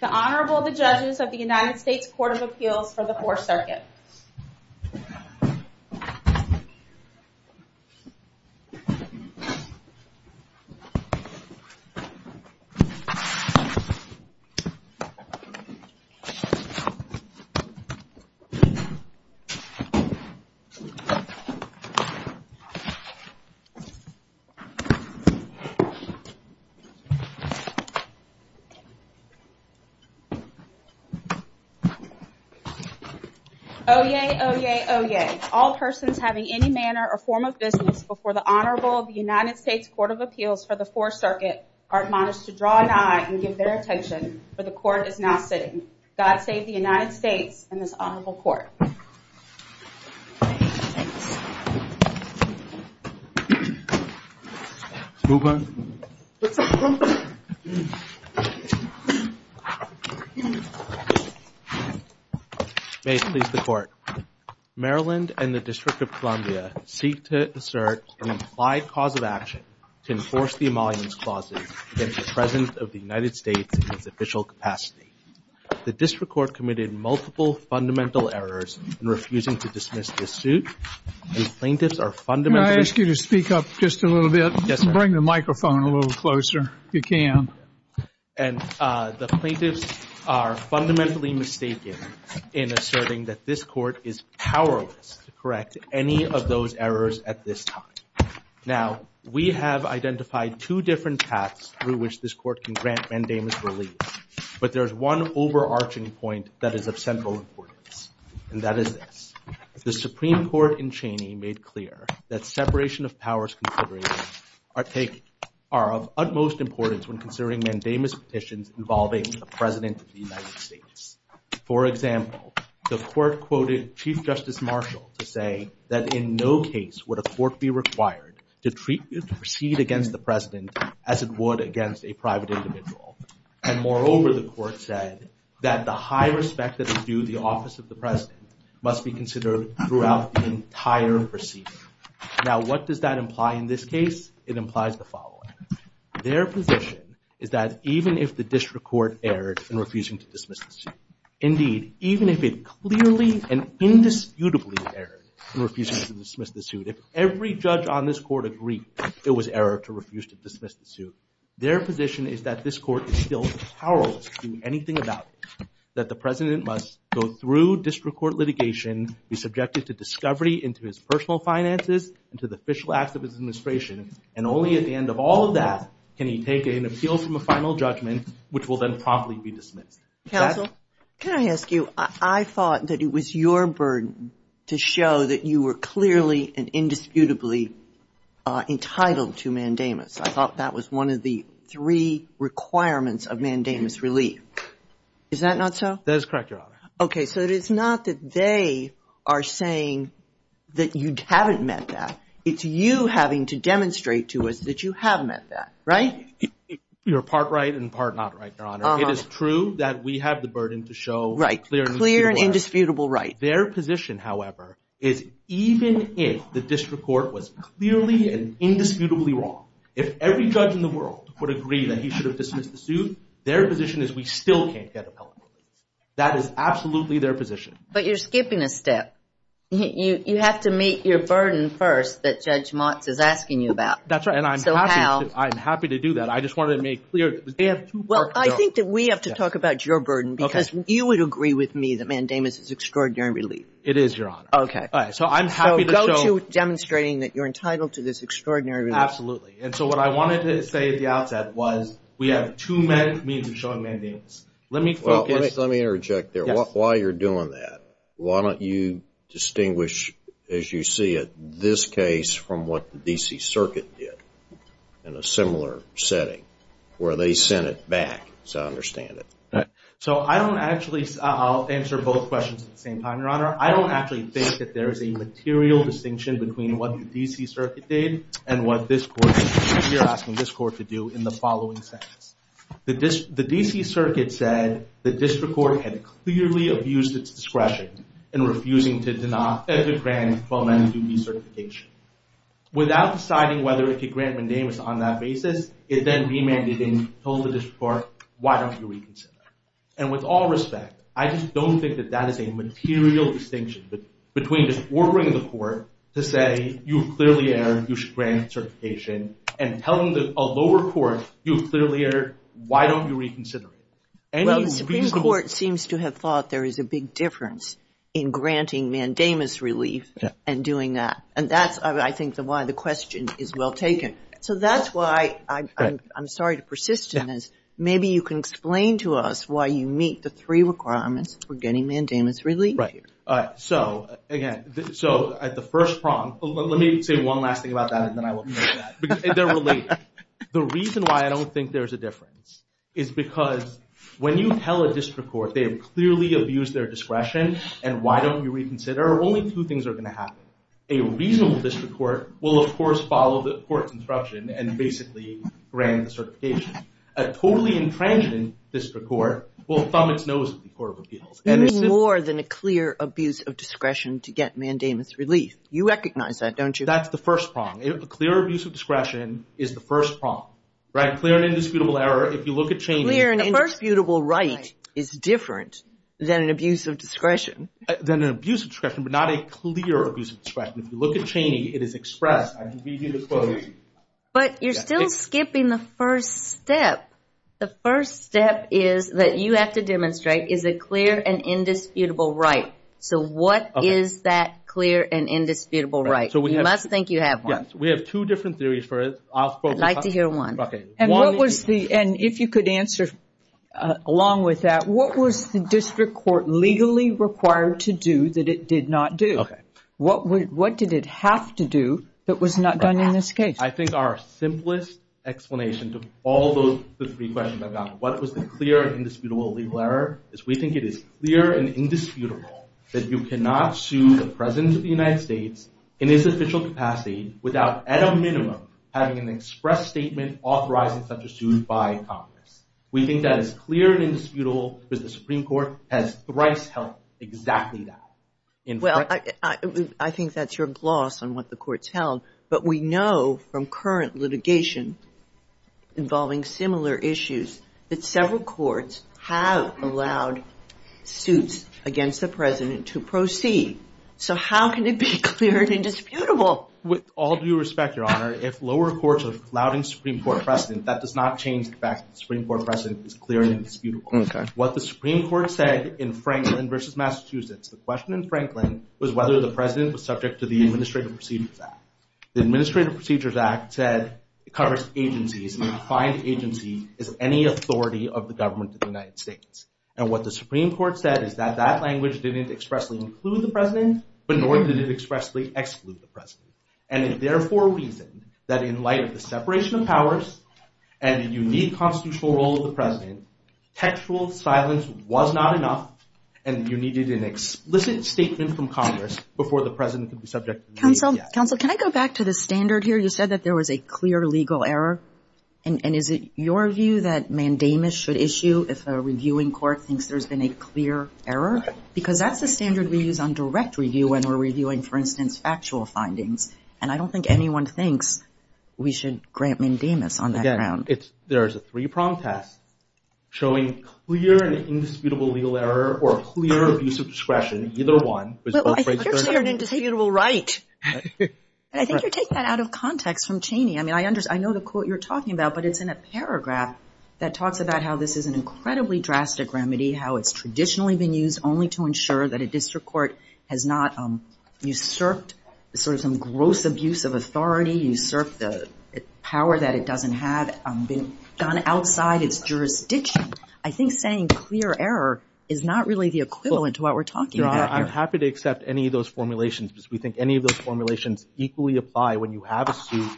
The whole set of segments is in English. The Honorable, the Judges of the United States Court of Appeals for the Fourth Circuit. Oyez, oyez, oyez. All persons having any manner or form of business before the Honorable of the United States Court of Appeals for the Fourth Circuit are admonished to draw an eye and give their attention, for the Court is now sitting. God save the United States and this Honorable Court. May it please the Court. Maryland and the District of Columbia seek to assert an implied cause of action to enforce the Emoluments Clause against the President of the United States in its official capacity. The District Court committed multiple fundamental errors in refusing to dismiss this suit. May I ask you to speak up just a little bit? Bring the microphone a little closer, if you can. And the plaintiffs are fundamentally mistaken in asserting that this Court is powerless to correct any of those errors at this time. Now, we have identified two different paths through which this Court can grant mandamus relief, but there's one overarching point that is of central importance, and that is this. The Court in Cheney made clear that separation of powers considerations are of utmost importance when considering mandamus petitions involving the President of the United States. For example, the Court quoted Chief Justice Marshall to say that in no case would a court be required to proceed against the President as it would against a private individual. And moreover, the Court said that the high respect that is due the office of the President must be considered throughout the entire proceeding. Now, what does that imply in this case? It implies the following. Their position is that even if the District Court erred in refusing to dismiss the suit, indeed, even if it clearly and indisputably erred in refusing to dismiss the suit, if every judge on this Court agreed it was error to refuse to dismiss the suit, their position is that this Court is still powerless to do anything about it, that the President must go through District Court litigation, be subjected to discovery into his personal finances, into the official act of his administration, and only at the end of all of that can he take an appeal from a final judgment, which will then promptly be dismissed. Counsel, can I ask you, I thought that it was your burden to show that you were clearly and indisputably entitled to mandamus. I thought that was one of the three requirements of mandamus relief. Is that not so? That is correct, Your Honor. Okay, so it's not that they are saying that you haven't met that. It's you having to demonstrate to us that you have met that, right? You're part right and part not right, Your Honor. It is true that we have the burden to show clearly and indisputably wrong. Right, clear and indisputable right. Their position, however, is even if the District Court was clearly and indisputably wrong, if every judge in the world would agree that he should have dismissed the suit, their position is we still can't get appellate court. That is absolutely their position. But you're skipping a step. You have to meet your burden first that Judge Motz is asking you about. That's right. So how? I'm happy to do that. I just wanted to make it clear. Well, I think that we have to talk about your burden because you would agree with me that mandamus is extraordinary relief. It is, Your Honor. Okay. Those who are demonstrating that you're entitled to this extraordinary relief. Absolutely. And so what I wanted to say at the outset was we have two means of showing mandamus. Let me interject there. While you're doing that, why don't you distinguish, as you see it, this case from what the D.C. Circuit did in a similar setting where they sent it back to understand it. So I don't actually, I'll answer both questions at the same time, Your Honor. I don't actually think that there's a material distinction between what the D.C. Circuit did and what this court did. The D.C. Circuit said the district court had clearly abused its discretion in refusing to denounce extra grants while mandating recertification. Without deciding whether it could grant mandamus on that basis, it then demanded and told the district court, why don't you reconsider? And with all respect, I just don't think that that is a material distinction between ordering the court to say, you clearly erred, you should grant certification, and telling a lower court, you clearly erred, why don't you reconsider? Well, the Supreme Court seems to have thought there is a big difference in granting mandamus relief and doing that. And that's, I think, why the question is well taken. So that's why I'm sorry to persist in this. Maybe you can explain to us why you meet the three requirements for getting mandamus relief here. So, again, the first problem, let me say one last thing about that and then I will finish that. The reason why I don't think there's a difference is because when you tell a district court they clearly abused their discretion and why don't you reconsider, only two things are going to happen. A reasonable district court will, of course, follow the court's instruction and basically grant certification. A totally infringing district court will thumb its nose at the court of appeals. And it's more than a clear abuse of discretion to get mandamus relief. You recognize that, don't you? That's the first problem. A clear abuse of discretion is the first problem. Right? Clear and indisputable error, if you look at changes. Clear and indisputable right is different than an abuse of discretion. But you're still skipping the first step. The first step is that you have to demonstrate is a clear and indisputable right. So what is that clear and indisputable right? You must think you have one. We have two different theories for it. I'd like to hear one. And if you could answer along with that, what was the district court legally required to do? What was it required to do that it did not do? What did it have to do that was not done in this case? I think our simplest explanation to all those three questions about what was the clear and indisputable legal error, is we think it is clear and indisputable that you cannot sue the President of the United States in his official capacity without, at a minimum, having an express statement authorizing such a suit by Congress. We think that it's clear and indisputable that the Supreme Court has thrice held exactly that. Well, I think that's your gloss on what the Court's held. But we know from current litigation involving similar issues that several courts have allowed suits against the President to proceed. So how can it be clear and indisputable? With all due respect, Your Honor, if lower courts are allowing Supreme Court precedent, that does not change the fact that the Supreme Court precedent is clear and indisputable. What the Supreme Court said in Franklin v. Massachusetts, the question in Franklin, was whether the President was subject to the Administrative Procedures Act. The Administrative Procedures Act said it covers agencies, and defined agency as any authority of the government of the United States. And what the Supreme Court said is that that language didn't expressly include the President, but nor did it expressly exclude the President. And it therefore reasoned that in light of the separation of powers, and the unique constitutional role of the President, textual silence was not enough, and you needed an explicit statement from Congress before the President could be subject to the Administrative Procedures Act. Counsel, can I go back to the standard here? You said that there was a clear legal error. And is it your view that mandamus should issue if a reviewing court thinks there's been a clear error? Because that's the standard we use on direct review when we're reviewing, for instance, factual findings. And I don't think anyone thinks we should grant mandamus on that ground. Again, there's a three-prong test showing clear and indisputable legal error, or clear abuse of discretion, either one. Well, I think you're clear and indisputable right. And I think you're taking that out of context from Cheney. I mean, I know the quote you're talking about, but it's in a paragraph that talks about how this is an incredibly drastic remedy, how it's traditionally been used only to ensure that a district court has not usurped sort of some gross abuse of authority, usurped the power that it doesn't have, been done outside its jurisdiction. I think saying clear error is not really the equivalent to what we're talking about here. Your Honor, I'm happy to accept any of those formulations, because we think any of those formulations equally apply when you have a suit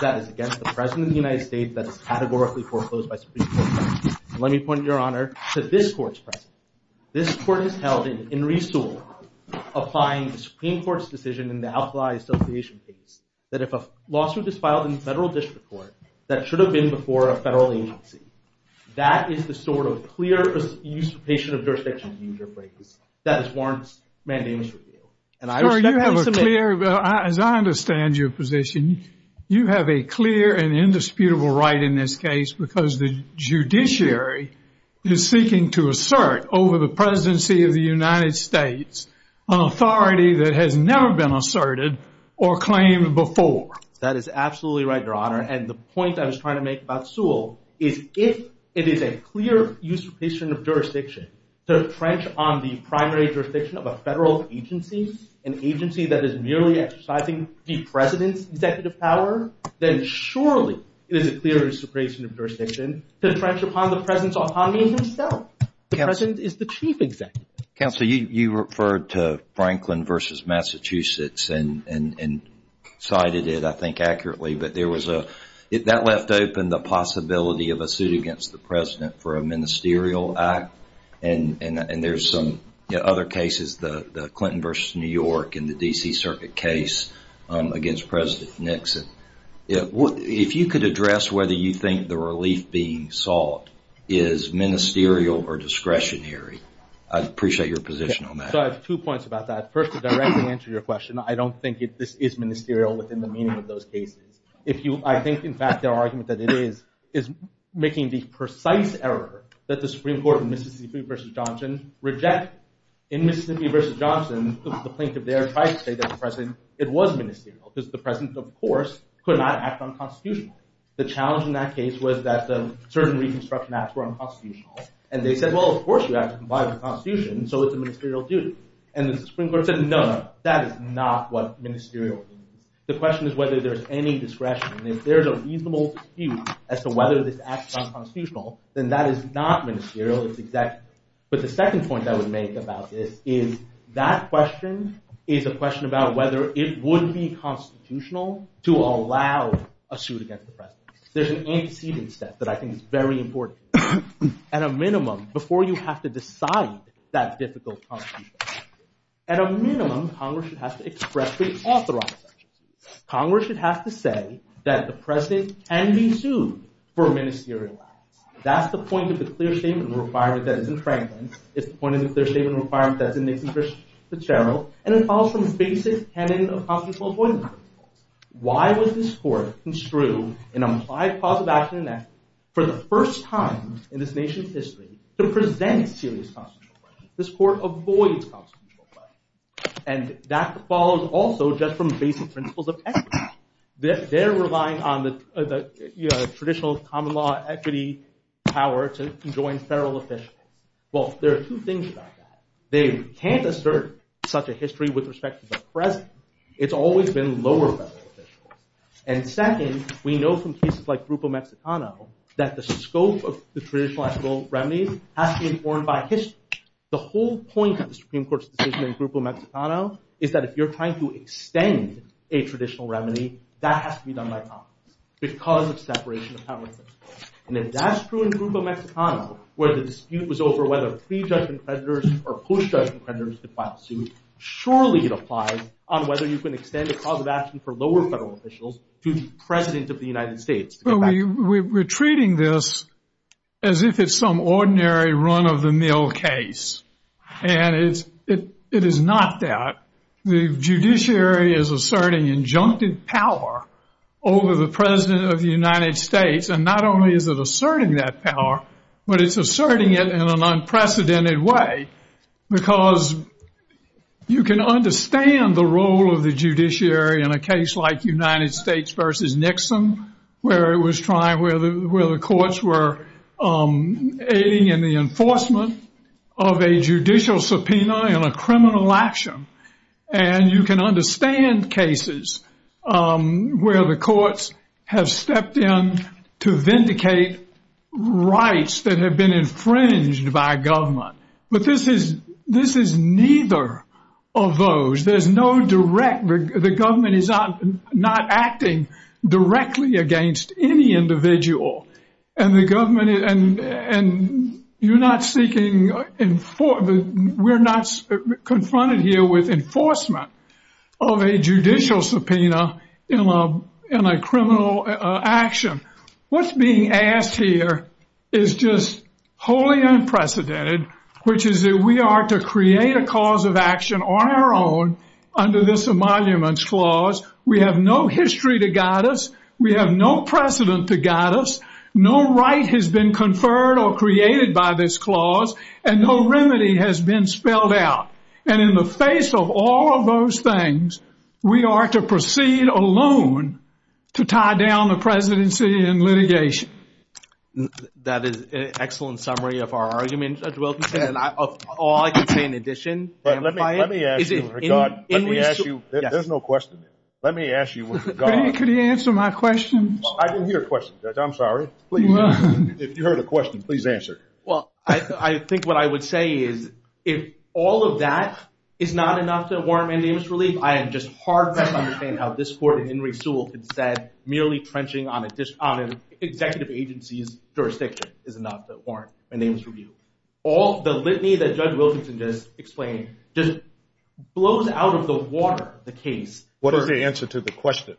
that is against the President of the United States that is categorically foreclosed by state courts. Let me point, Your Honor, to this court's practice. This court has held an in-resource of applying the Supreme Court's decision in the outlaw association case that if a lawsuit is filed in the federal district court that should have been before a federal agency, that is the sort of clear abuse of patient observation that is warranted mandamus review. And I respect that. Well, you have a clear, as I understand your position, you have a clear and indisputable right in this case because the judiciary is seeking to assert over the presidency of the United States an authority that has never been asserted or claimed before. That is absolutely right, Your Honor. And the point I was trying to make about Sewell is if it is a clear use of jurisdiction, to trench on the primary jurisdiction of a federal agency, an agency that is merely exercising the President's executive power, then surely it is a clear use of jurisdiction to trench upon the President's autonomy himself. The President is the chief executive. Counsel, you referred to Franklin v. Massachusetts and cited it, I think, accurately, but that left open the possibility of a suit against the President for a ministerial act. And there's some other cases, the Clinton v. New York and the D.C. Circuit case against President Nixon. If you could address whether you think the relief being sought is ministerial or discretionary, I'd appreciate your position on that. I have two points about that. First, to directly answer your question, I don't think this is ministerial within the meaning of those cases. I think, in fact, the argument that it is is making the precise error that the Supreme Court of Mississippi v. Johnson rejects. In Mississippi v. Johnson, the plaintiff there might say that the President, it was ministerial, because the President, of course, could not act unconstitutionally. The challenge in that case was that certain reconstruction acts were unconstitutional. And they said, well, of course you have to comply with the Constitution, so it's ministerial duty. And the Supreme Court said, no, no, that is not what ministerial duty is. The question is whether there's any discretion. And if there's a reasonable dispute as to whether this act is unconstitutional, then that is not ministerial. But the second point I would make about this is that question is a question about whether it would be constitutional to allow a suit against the President. There's an antecedent step that I think is very important. At a minimum, before you have to decide that difficult constitution, at a minimum, Congress should have to expressly authorize it. Congress should have to say that the President can be sued for a ministerial act. That's the point of the Clear Statement of the Requirements as in Franklin. It's the point of the Clear Statement of the Requirements as in Nathan Fitzgerald. And it follows from the basic tenet of Constitutional Voting Rights. Why would this court construe an implied cause of action and action for the first time in this nation's history to present serious constitutional rights? This court avoids constitutional rights. And that follows also just from basic principles of equity. They're relying on the traditional common law equity power to join federal officials. Well, there are two things about that. They can't assert such a history with respect to the President. It's always been lower federal officials. And second, we know from cases like Grupo Mexicano that the scope of the The whole point of the Supreme Court's decision in Grupo Mexicano is that if you're trying to extend a traditional remedy, that has to be done by Congress because of separation of powers. And if that's true in Grupo Mexicano, where the dispute was over whether prejudged imprisoners or post-judged imprisoners could file a suit, surely it applies on whether you can extend a cause of action for lower federal officials to be President of the United States. We're treating this as if it's some ordinary run-of-the-mill case. And it is not that. The judiciary is asserting injunctive power over the President of the United States. And not only is it asserting that power, but it's asserting it in an unprecedented way because you can understand the role of the judiciary in a case like United States versus Nixon, where the courts were aiding in the enforcement of a judicial subpoena in a criminal action. And you can understand cases where the courts have stepped in to vindicate rights that have been infringed by government. But this is neither of those. The government is not acting directly against any individual. We're not confronted here with enforcement of a judicial subpoena in a criminal action. What's being asked here is just wholly unprecedented, which is that we are to create a cause of action on our own under this Emoluments Clause. We have no history to guide us. We have no precedent to guide us. No right has been conferred or created by this clause, and no remedy has been spelled out. And in the face of all of those things, we are to proceed alone to tie down the presidency in litigation. That is an excellent summary of our arguments, Judge Wilkinson, and all I can say in addition. Let me ask you, Richard. Let me ask you. There's no question. Let me ask you. Could you answer my question? I didn't hear a question, Judge. I'm sorry. Please. If you heard a question, please answer. Well, I think what I would say is if all of that is not enough to warrant my name's relief, I am just hard-pressed to understand how this Court and Henry Sewell can say merely quenching on an executive agency's jurisdiction is enough to warrant my name's relief. All the litany that Judge Wilkinson just explained just blows out of the water the case. What is your answer to the question?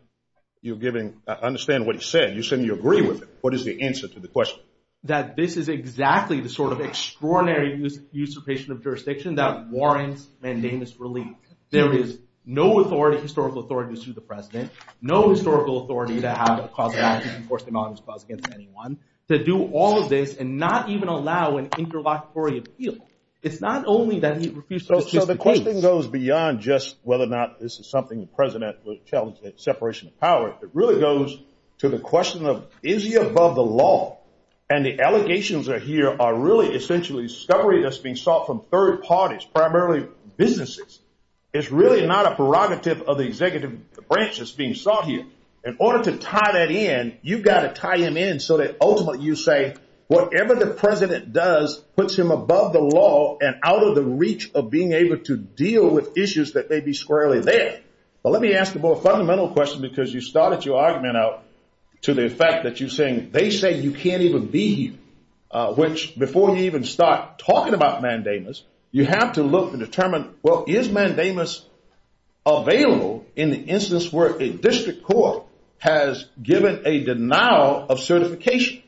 I understand what you said. You said you agree with it. What is the answer to the question? That this is exactly the sort of extraordinary usurpation of jurisdiction that warrants my name's relief. There is no authority, historical authority, to sue the President, no historical authority to have a cross-examination, enforced denial of responsibility against anyone, to do all of this and not even allow an interlocutory appeal. It's not only that he refused to sue the case. So the question goes beyond just whether or not this is something the President would challenge the separation of powers. It really goes to the question of is he above the law? And the allegations that are here are really essentially discovery that's being sought from third parties, primarily businesses. It's really not a prerogative of the executive branch that's being sought here. In order to tie that in, you've got to tie him in so that ultimately you say whatever the President does puts him above the law and out of the reach of being able to deal with issues that may be squarely there. But let me ask you a more fundamental question because you started your argument out to the effect that you're saying they say you can't even be here, which before you even start talking about mandamus, you have to look and determine, well, is mandamus available in the instance where a district court has given a denial of certification?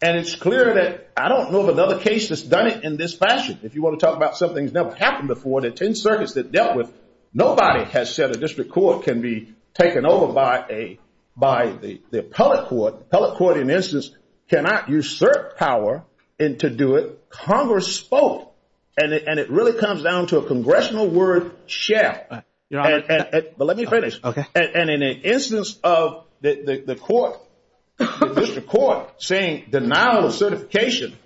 And it's clear that I don't know of another case that's done it in this fashion. If you want to talk about something that's never happened before, the 10 circuits that dealt with, nobody has said a district court can be taken over by the appellate court. The appellate court, in this instance, cannot usurp power to do it. Congress spoke. And it really comes down to a congressional word, share. But let me finish. And in an instance of the court, the district court, saying denial of certification,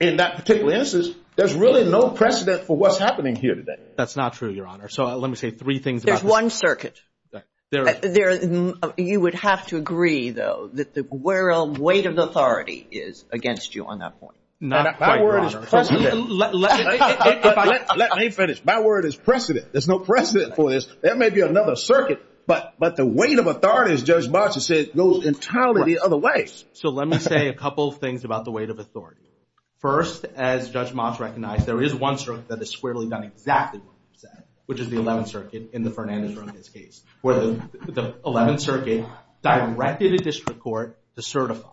in that particular instance, there's really no precedent for what's happening here today. That's not true, Your Honor. So let me say three things. There's one circuit. You would have to agree, though, that the weight of the authority is against you on that point. My word is precedent. Let me finish. My word is precedent. There's no precedent for this. There may be another circuit, but the weight of authority, as Judge Moss has said, goes entirely the other way. So let me say a couple things about the weight of authority. First, as Judge Moss recognized, there is one circuit that is squarely not exactly what the 11th Circuit directed the district court to certify.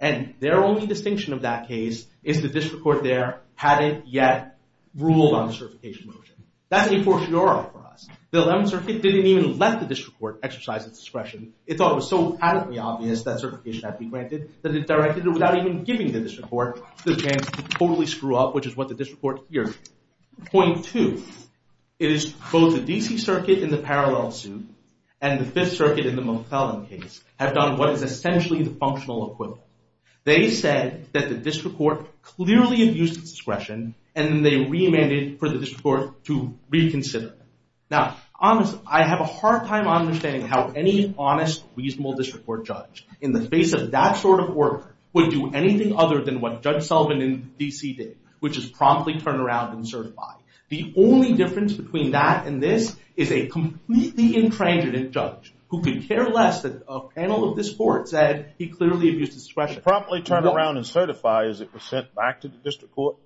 And their only distinction of that case is the district court there hadn't yet ruled on a certification motion. That's a fortiori for us. The 11th Circuit didn't even let the district court exercise its discretion. It thought it was so patently obvious that certification had to be granted that it directed it without even giving the district court the chance to totally screw up, which is what the district court here did. Point two is both the D.C. Circuit in the Parallel suit and the 5th Circuit in the Most Felon case have done what is essentially the functional equivalent. They said that the district court clearly abused its discretion, and then they remanded for the district court to reconsider. Now, honestly, I have a hard time understanding how any honest, reasonable district court judge, in the face of that sort of work, would do anything other than what Judge Sullivan in D.C. did, which is promptly turn around and certify. The only difference between that and this is a completely intransigent judge who could care less that a panel of this court said he clearly abused his discretion. Promptly turn around and certify as it was sent back to the district court?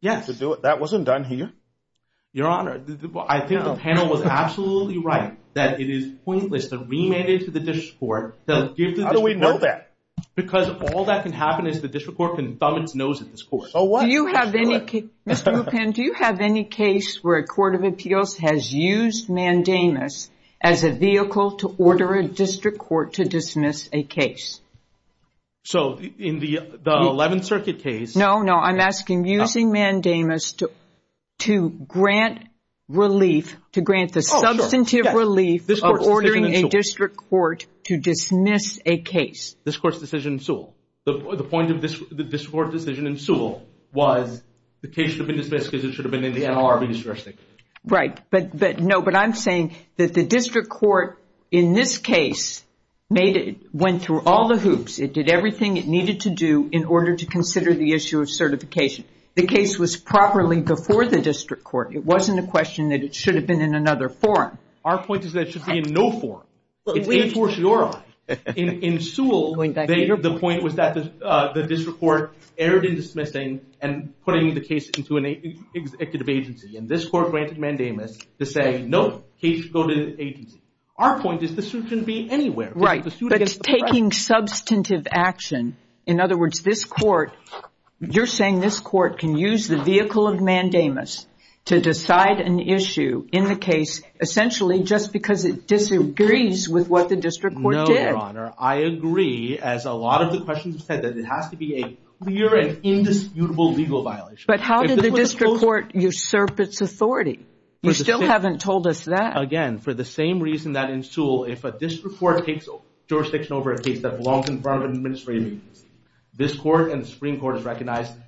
Yes. To do it? That wasn't done here. Your Honor, I think the panel was absolutely right that it is pointless to remand it to the district court. How do we know that? Because all that can happen is the district court can thumb its nose at this court. Do you have any case where a court of appeals has used mandamus as a vehicle to order a district court to dismiss a case? So, in the 11th Circuit case... No, no. I'm asking using mandamus to grant relief, to grant the substantive relief of ordering a district court to dismiss a case. This court's decision in Sewell. The point of this court's decision in Sewell was the case should have been dismissed because it should have been in the NLRB district. Right. No, but I'm saying that the district court, in this case, went through all the hoops. It did everything it needed to do in order to consider the issue of certification. The case was properly before the district court. It wasn't a question that it should have been in another forum. Our point is that it should be in no forum. In Sewell, the point was that the district court erred in dismissing and putting the case into an executive agency, and this court granted mandamus to say, no, the case should go to the agency. Our point is the suit can be anywhere. Right, but it's taking substantive action. In other words, this court, you're saying this court can use the vehicle of mandamus to decide an issue in the case, essentially just because it disagrees with what the district court did. No, Your Honor. I agree, as a lot of the questions said, that it has to be a clear and indisputable legal violation. But how did the district court usurp its authority? You still haven't told us that. Again, for the same reason that in Sewell, if a district court takes jurisdiction over a case that belongs in front of an administrative agency, this court and the Supreme Court have jurisdiction.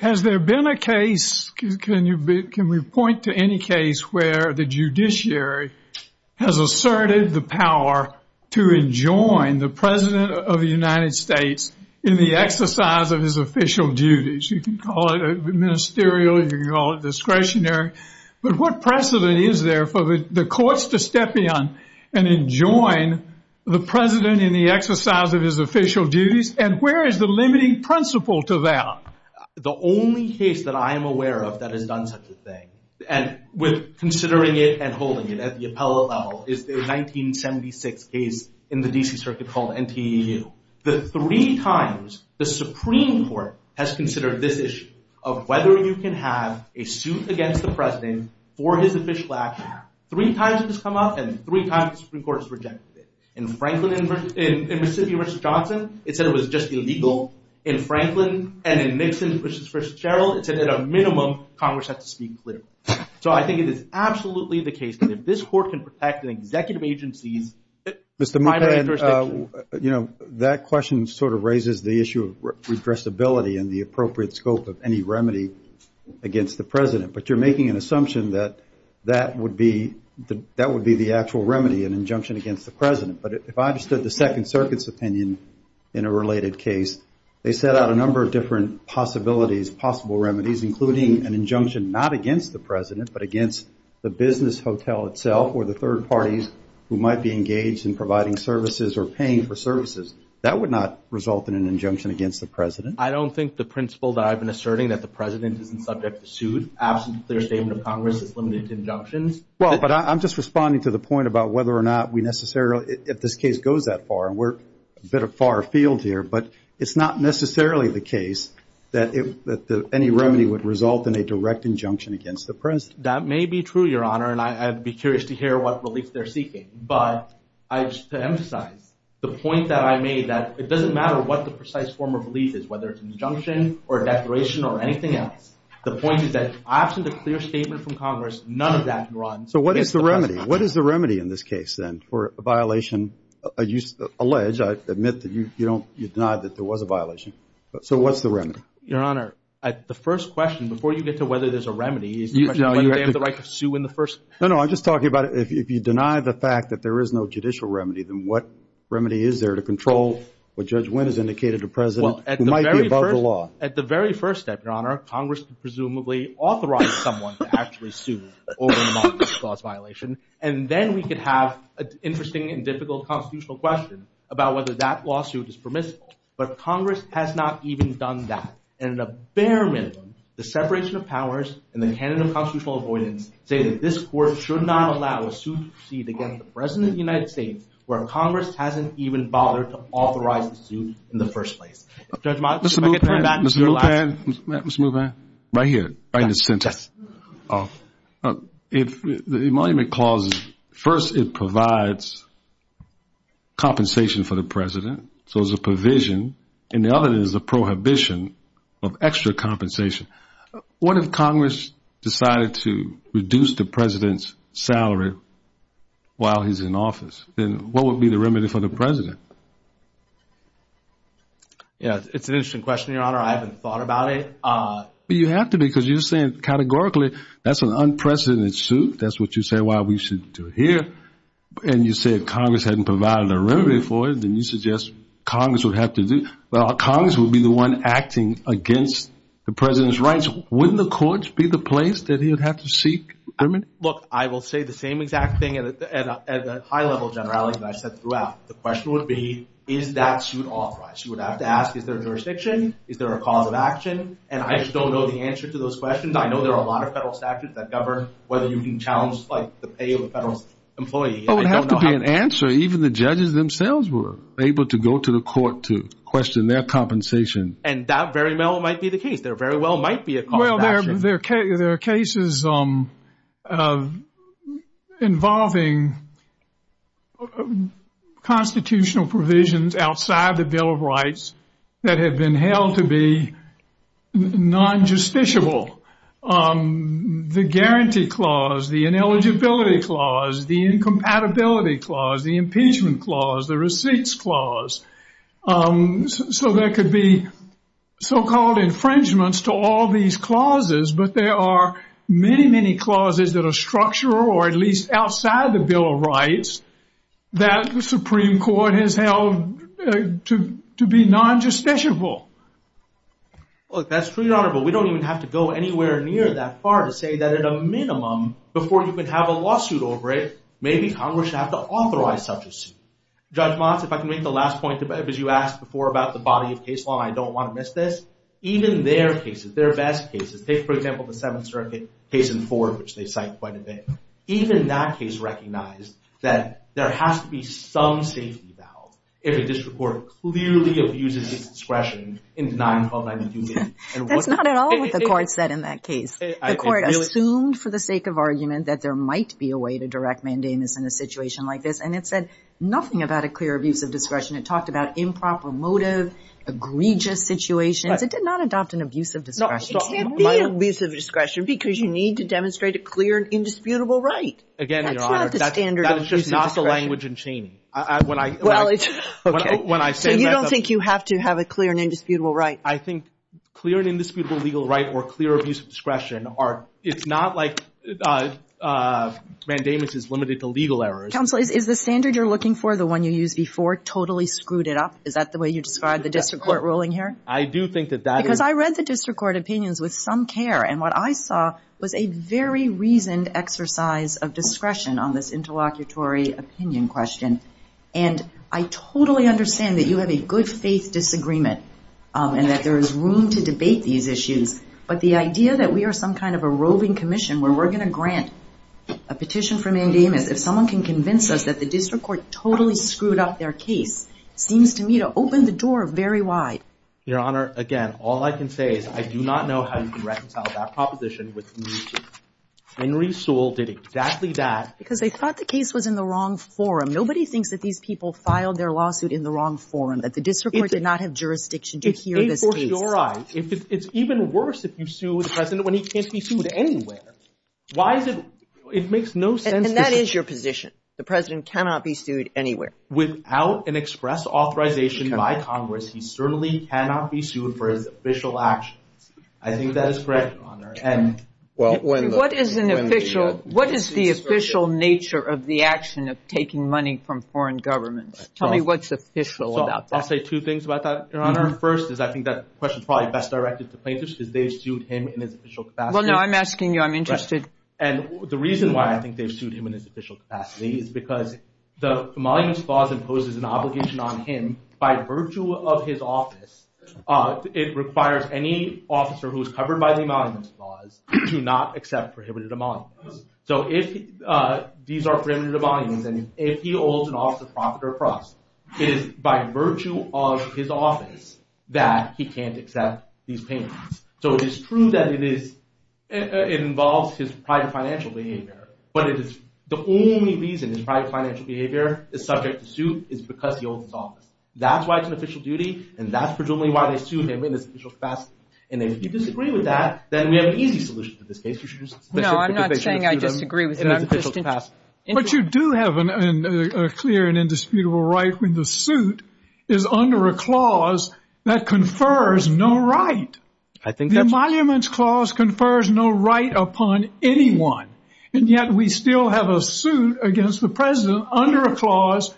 Has there been a case, can we point to any case where the judiciary has asserted the power to enjoin the President of the United States in the exercise of his official duties? You can call it ministerial, you can call it discretionary, but what precedent is there for the courts to step in and enjoin the President in the exercise of his official duties, and where is the limiting principle to that? The only case that I am aware of that has done such a thing, and with considering it and holding it at the appellate level, is the 1976 case in the D.C. Circuit called NTEU. The three times the Supreme Court has considered this issue of whether you can have a suit against the President for his official actions, three times it's come up and three times the Supreme Court has rejected it. In Franklin, in Mississippi v. Johnson, it said it was just illegal. In Franklin, and in Nixon v. Cheryl, it said at a minimum, Congress had to speak clearly. So I think it is absolutely the case that if this court can protect an executive agency's minor interests... Mr. Mukai, you know, that question sort of raises the issue of regressibility and the appropriate scope of any remedy against the President. But you're making an assumption that that would be the actual remedy, an injunction against the President. But if I understood the Second Circuit's opinion in a related case, they set out a number of different possibilities, possible remedies, including an injunction not against the President, but against the business hotel itself or the third parties who might be engaged in providing services or paying for services. That would not result in an injunction against the President. I don't think the principle that I've been asserting, that the President isn't subject to suit, absent a clear statement of Congress, is limited to injunctions. Well, but I'm just responding to the point about whether or not we necessarily, if this case goes that far, and we're a bit of a far field here, but it's not necessarily the case that any remedy would result in a direct injunction against the President. That may be true, Your Honor, and I'd be curious to hear what relief they're seeking. But to emphasize, the point that I made that it doesn't matter what the precise form of relief is, whether it's injunction or declaration or anything else. The point is that absent a clear statement from Congress, none of that runs. So what is the remedy? What is the remedy in this case, then, for a violation alleged? I admit that you denied that there was a violation. So what's the remedy? Your Honor, the first question, before you get to whether there's a remedy, is the question whether they have the right to sue in the first place. No, no, I'm just talking about if you deny the fact that there is no judicial remedy, then what remedy is there to control what Judge Wynn has indicated to the President, who might be above the law? Well, at the very first step, Your Honor, Congress presumably authorized someone to actually sue over a non-judicial violation. And then we could have an interesting and difficult constitutional question about whether that lawsuit is permissible. But Congress has not even done that. And at a bare minimum, the separation of powers and the handling of constitutional avoidance say that this Court should not allow a suit to proceed against the President of the United States, where Congress hasn't even bothered to authorize a suit in the first place. Mr. Mulvaney, right here, right in the center. If the emolument clause, first it provides compensation for the President, so it's a provision, and the other is a prohibition of extra compensation. What if Congress decided to reduce the President's salary while he's in office? It's an interesting question, Your Honor. I haven't thought about it. You have to, because you're saying categorically that's an unprecedented suit. That's what you say why we should do it here. And you say if Congress hadn't provided a remedy for it, then you suggest Congress would have to do it. Well, Congress would be the one acting against the President's rights. Wouldn't the courts be the place that he would have to seek remedy? Look, I will say the same exact thing as a high-level general, as I said throughout. The question would be, is that suit authorized? You would have to ask, is there a jurisdiction? Is there a cause of action? And I just don't know the answer to those questions. I know there are a lot of federal statutes that govern whether you can challenge the pay of a federal employee. It would have to be an answer. Even the judges themselves were able to go to the court to question their compensation. And that very well might be the case. There very well might be a cause of action. Well, there are cases involving constitutional provisions outside the Bill of Rights that have been held to be non-justiciable. The Guarantee Clause, the Ineligibility Clause, the Incompatibility Clause, the Impeachment Clause, the Receipts Clause. So there could be so-called infringements to all these clauses, but there are many, many clauses that are structured, or at least outside the Bill of Rights, that the Supreme Court has held to be non-justiciable. Look, that's true, Your Honor, but we don't even have to go anywhere near that far to say that at a minimum, before you can have a lawsuit over it, maybe Congress should have to authorize such a suit. Judge Motz, if I can make the last point, because you asked before about the body of case law, and I don't want to miss this. Even their cases, their best cases, take, for example, the Seventh Circuit case in Ford, which they cite quite a bit. Even that case recognized that there has to be some safety valve if a district court clearly abuses its discretion in denying the file of mandamus. That's not at all what the court said in that case. The court assumed, for the sake of argument, that there might be a way to direct mandamus in a situation like this, and it said nothing about a clear abuse of discretion. It talked about improper motive, egregious situations. It did not adopt an abuse of discretion. It can't be abuse of discretion, because you need to demonstrate a clear and indisputable right. Again, Your Honor, that's just not the language in Cheney. So you don't think you have to have a clear and indisputable right? I think clear and indisputable legal right or clear abuse of discretion are, it's not like mandamus is limited to legal errors. Counselor, is the standard you're looking for, the one you used before, totally screwed it up? Is that the way you describe the district court ruling here? I do think that that is... Because I read the district court opinions with some care, and what I saw was a very reasoned exercise of discretion on this interlocutory opinion question. And I totally understand that you have a good faith disagreement, and that there is room to debate these issues. But the idea that we are some kind of a rolling commission, where we're going to grant a petition for mandamus, if someone can convince us that the district court totally screwed up their case, seems to me to open the door very wide. Your Honor, again, all I can say is I do not know how you can reconcile that proposition with mandamus. Henry Sewell did exactly that. Because they thought the case was in the wrong forum. Nobody thinks that these people filed their lawsuit in the wrong forum, that the district court did not have jurisdiction to hear this case. It's even worse if you sue the President when he can't be sued anywhere. Why is it... It makes no sense... And that is your position. The President cannot be sued anywhere. Without an express authorization by Congress, he certainly cannot be sued for his official action. I think that is correct, Your Honor. What is the official nature of the action of taking money from foreign governments? Tell me what's official about that. I'll say two things about that, Your Honor. The first is, I think that question is probably best directed to Plankus, is they sued him in his official capacity. Well, no, I'm asking you. I'm interested. And the reason why I think they sued him in his official capacity is because the Emoluments Clause imposes an obligation on him by virtue of his office. It requires any officer who is covered by the Emoluments Clause to not accept prohibited emoluments. So if these are prohibited emoluments, and if he holds an office of profit or fraud, it is by virtue of his office that he can't accept these payments. So it is true that it involves his private financial behavior. But the only reason his private financial behavior is subject to suit is because he holds his office. That's why it's an official duty, and that's presumably why they sued him in his official capacity. And if you disagree with that, then we have an easy solution to this case. No, I'm not saying I disagree with him in his official capacity. But you do have a clear and indisputable right when the suit is under a clause that confers no right. I think that's true. The Emoluments Clause confers no right upon anyone, and yet we still have a suit against the president under a clause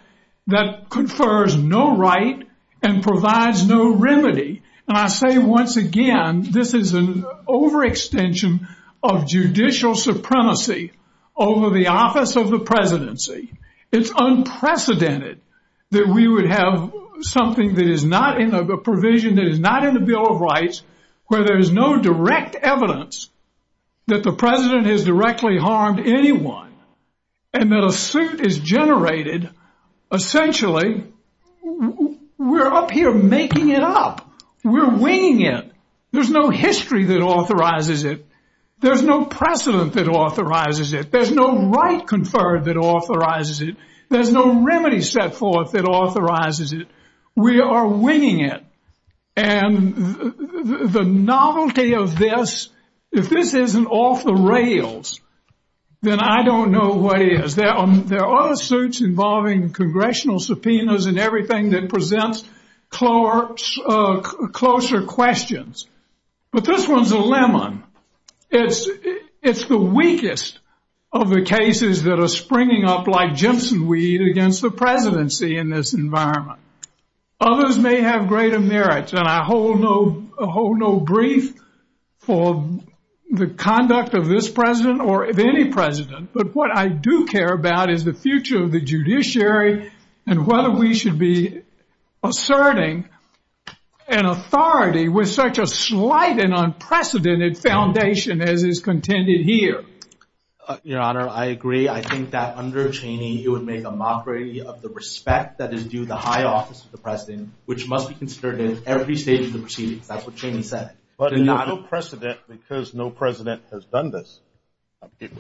that confers no right and provides no remedy. And I say once again, this is an overextension of judicial supremacy over the office of the presidency. It's unprecedented that we would have something that is not in the provision, that is not in the Bill of Rights, where there is no direct evidence that the president has directly harmed anyone. And that a suit is generated, essentially, we're up here making it up. We're winging it. There's no history that authorizes it. There's no precedent that authorizes it. There's no right conferred that authorizes it. There's no remedy set forth that authorizes it. We are winging it. And the novelty of this, if this isn't off the rails, then I don't know what is. There are suits involving congressional subpoenas and everything that presents closer questions. But this one's a lemon. It's the weakest of the cases that are springing up like ginseng weed against the presidency in this environment. Others may have greater merits, and I hold no grief for the conduct of this president or of any president, but what I do care about is the future of the judiciary and whether we should be asserting an authority with such a slight and unprecedented foundation as is contended here. Your Honor, I agree. I think that under Cheney, it would make a mockery of the respect that is due to the high office of the president, which must be considered in every stage of the proceedings. That's what Cheney said. But there's no precedent because no president has done this.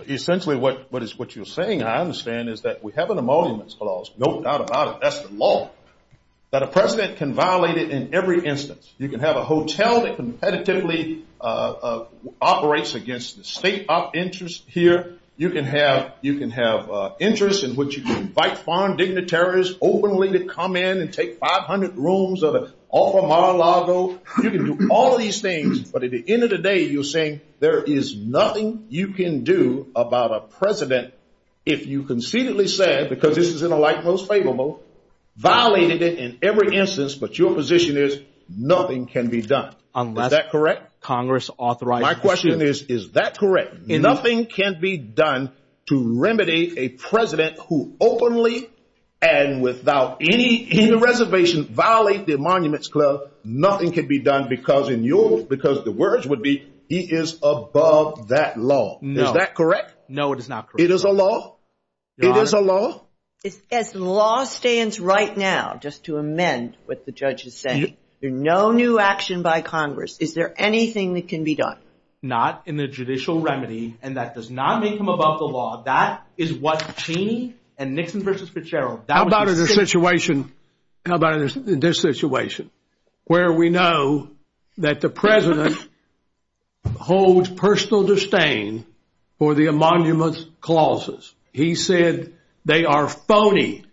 Essentially, what you're saying, I understand, is that we have an emoluments clause. No doubt about it. That's the law. That a president can violate it in every instance. You can have a hotel that competitively operates against the state of interest here. You can have interests in which you can invite foreign dignitaries openly to come in and take 500 rooms of the Altamira Lago. You can do all these things, but at the end of the day, you're saying there is nothing you can do about a president, if you conceitedly said, because this is in a life most favorable, violated it in every instance, but your position is nothing can be done. Is that correct? My question is, is that correct? Nothing can be done to remedy a president who openly and without any reservations violates the emoluments clause. Nothing can be done because the words would be, he is above that law. Is that correct? No, it is not correct. It is a law? It is a law? As the law stands right now, just to amend what the judge is saying, there's no new action by Congress. Is there anything that can be done? Not in the judicial remedy, and that does not make him above the law. That is what Cheney and Nixon versus Fitzgerald- How about in this situation, where we know that the president holds personal disdain for the emoluments clauses? He said they are phony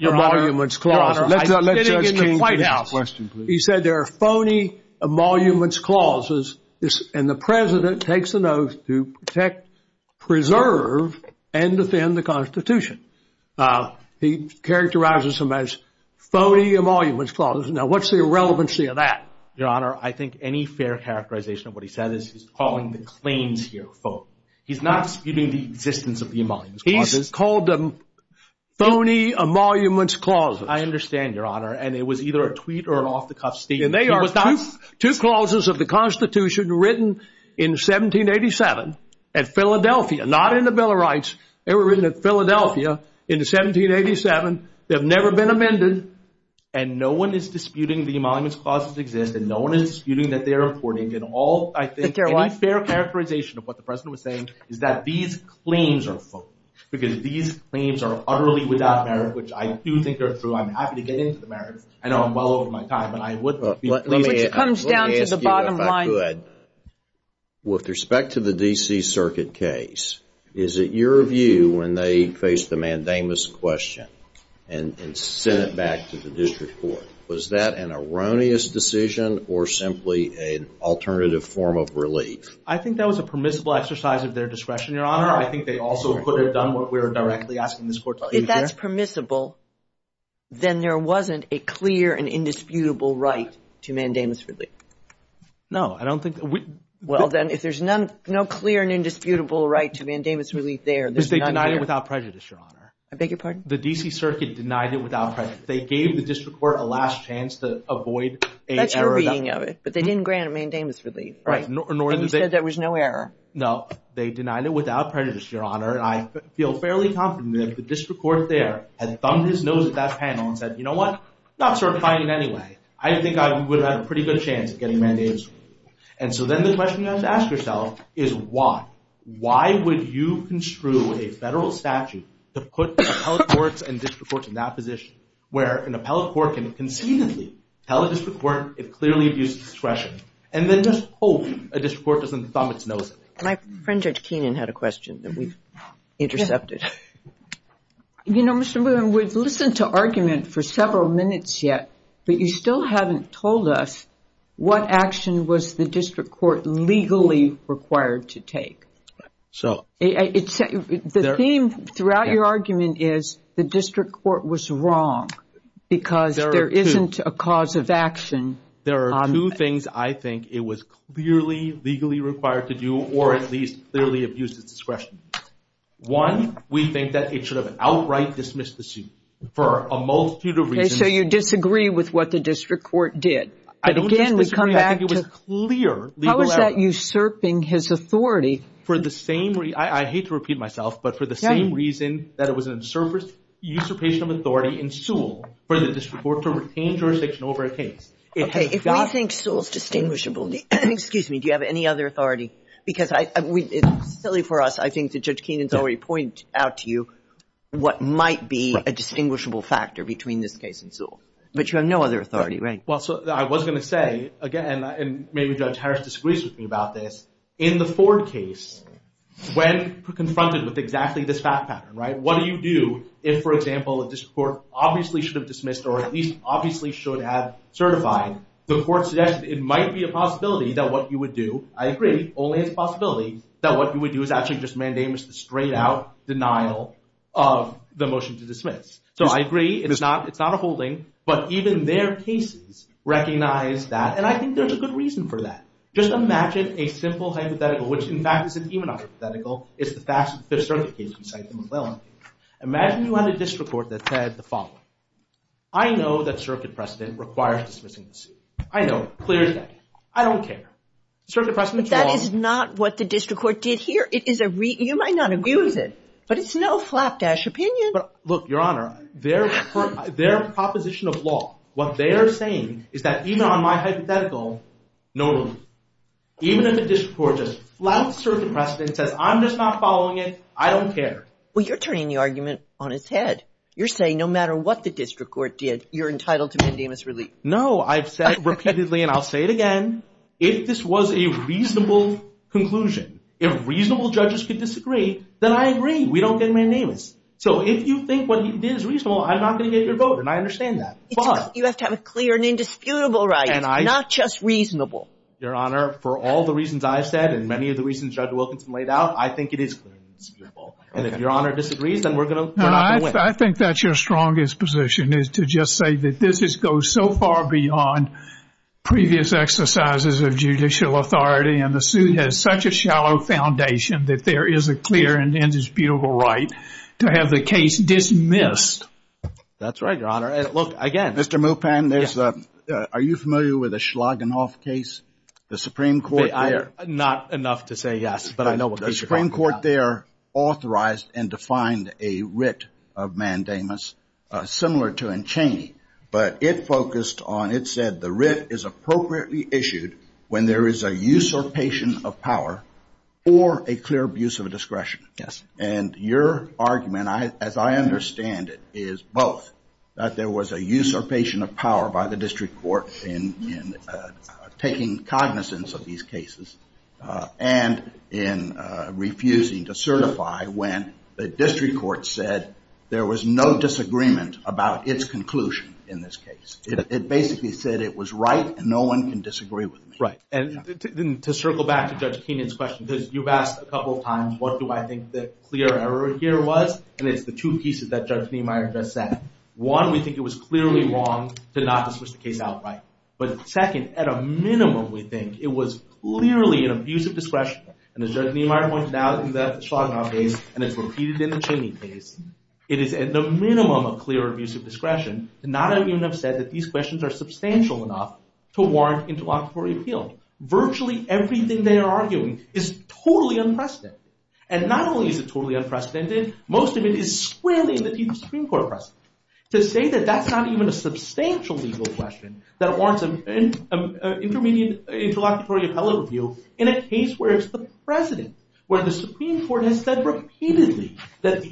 emoluments clauses. Your Honor, I didn't get your point out. Question, please. He said they are phony emoluments clauses, and the president takes the oath to protect, preserve, and defend the Constitution. Now, he characterizes them as phony emoluments clauses. Now, what's the irrelevancy of that? Your Honor, I think any fair characterization of what he said is he's calling the claims here phony. He's not disputing the existence of the emoluments clauses. He's called them phony emoluments clauses. I understand, Your Honor, and it was either a tweet or an off-the-cuff statement. They are two clauses of the Constitution written in 1787 at Philadelphia, not in the Bill of Rights. They were written at Philadelphia in 1787. They've never been amended, and no one is disputing the emoluments clauses exist, and no one is disputing that they're important. Any fair characterization of what the president was saying is that these claims are phony which I do think they're true. I'm happy to get into the matter. I know I'm well over my time, and I would not be. Let me ask you if I could. With respect to the D.C. Circuit case, is it your view when they faced the mandamus question and sent it back to the district court, was that an erroneous decision or simply an alternative form of relief? I think that was a permissible exercise of their discretion, Your Honor. I think they also could have done what we're directly asking this court to do. Well, if that's permissible, then there wasn't a clear and indisputable right to mandamus relief. No, I don't think... Well, then if there's no clear and indisputable right to mandamus relief there... They denied it without prejudice, Your Honor. I beg your pardon? The D.C. Circuit denied it without prejudice. They gave the district court a last chance to avoid... That's your reading of it, but they didn't grant a mandamus relief. Right. And you said there was no error. No. They denied it without prejudice, Your Honor, and I feel fairly confident that the district court there had thumbed his nose at that panel and said, you know what? It's not certifying in any way. I think I would have a pretty good chance of getting a mandamus relief. And so then the question you have to ask yourself is why? Why would you construe a federal statute to put the appellate courts and district courts in that position where an appellate court can concededly tell a district court it clearly abuses discretion and then just hope a district court doesn't thumb its nose at it? My friend, Judge Keenan, had a question that we intercepted. You know, Mr. Blumenthal, we've listened to argument for several minutes yet, but you still haven't told us what action was the district court legally required to take. So... The theme throughout your argument is the district court was wrong because there isn't a cause of action... ...or at least clearly abuses discretion. One, we think that it should have outright dismissed the suit for a multitude of reasons... So you disagree with what the district court did. But again, we come back to... How is that usurping his authority? For the same... I hate to repeat myself, but for the same reason that it was an usurpation of authority in Sewell for the district court to retain jurisdiction over a case. If we think Sewell's distinguishable... Excuse me, do you have any other authority? Because it's silly for us. I think that Judge Keenan's already pointed out to you what might be a distinguishable factor between this case and Sewell. But you have no other authority, right? Well, so I was going to say, again, and maybe Judge Harris disagrees with me about this, in the Ford case, when confronted with exactly this fact pattern, right, what do you do if, for example, a district court obviously should have dismissed or at least obviously should have certified the court's suggestion that it might be a possibility that what you would do... I agree, only a possibility that what you would do is actually just mandamus the straight-out denial of the motion to dismiss. So I agree. It's not a holding. But even their cases recognize that. And I think there's a good reason for that. Just imagine a simple hypothetical, which, in fact, is an even hypothetical. It's the fact that the fifth circuit case was signed by McWilliams. Imagine you had a district court that said the following. I know that circuit precedent requires dismissing the suit. I know. Clear as day. I don't care. Circuit precedent is wrong. But that is not what the district court did here. It is a... You might not agree with it, but it's no flapdash opinion. Look, Your Honor, their proposition of law, what they are saying is that even on my hypothetical, no reason. Even if the district court just flouts circuit precedent and says, I'm just not following it, I don't care. Well, you're turning the argument on its head. You're saying no matter what the district court did, you're entitled to mandamus relief. No. I've said repeatedly, and I'll say it again, if this was a reasonable conclusion, if reasonable judges could disagree, then I agree. We don't get mandamus. So if you think what you did is reasonable, I'm not going to get your vote, and I understand that. But... You have to have a clear and indisputable right, not just reasonable. Your Honor, for all the reasons I've said and many of the reasons Judge Wilkinson laid out, I think it is clear and indisputable. And if Your Honor disagrees, then we're going to... No, I think that's your strongest position, is to just say that this goes so far beyond previous exercises of judicial authority, and the suit has such a shallow foundation that there is a clear and indisputable right to have the case dismissed. That's right, Your Honor. Look, again... Mr. Moupin, are you familiar with the Schlagenhof case? The Supreme Court there... Not enough to say yes, but I know what you're talking about. The Supreme Court there authorized and defined a writ of mandamus similar to Enchainey, but it focused on... It said, the writ is appropriately issued when there is a usurpation of power or a clear abuse of discretion. Yes. And your argument, as I understand it, is both, that there was a usurpation of power by the district court in taking cognizance of these cases, and in refusing to certify when the district court said there was no disagreement about its conclusion in this case. It basically said it was right, and no one can disagree with it. Right. And to circle back to Judge Kenan's question, because you've asked a couple of times what do I think the clear error here was, and it's the two pieces that Judge Niemeyer just said. One, we think it was clearly wrong to not have switched the case outright. But second, at a minimum, we think it was clearly an abuse of discretion. And as Judge Niemeyer points out in the Schlagenhof case, and has repeated in the Enchainey case, it is at the minimum of clear abuse of discretion to not have even have said that these questions are substantial enough to warrant interlocutory appeal. Virtually everything they are arguing is totally unprecedented. And not only is it totally unprecedented, most of it is squarely in the Supreme Court To say that that's not even a substantial legal question that warrants an intermediate interlocutory appellate review in a case where it's the president, where the Supreme Court has said repeatedly that the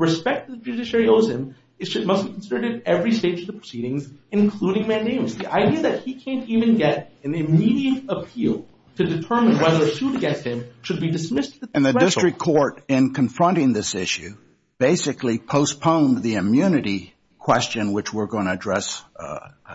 respect that the judiciary owes him must be considered at every stage of the proceedings, including mandating it. The idea that he can't even get an immediate appeal to determine whether a suit against him should be dismissed as a threat to justice. The Supreme Court, in confronting this issue, basically postponed the immunity question, which we're going to address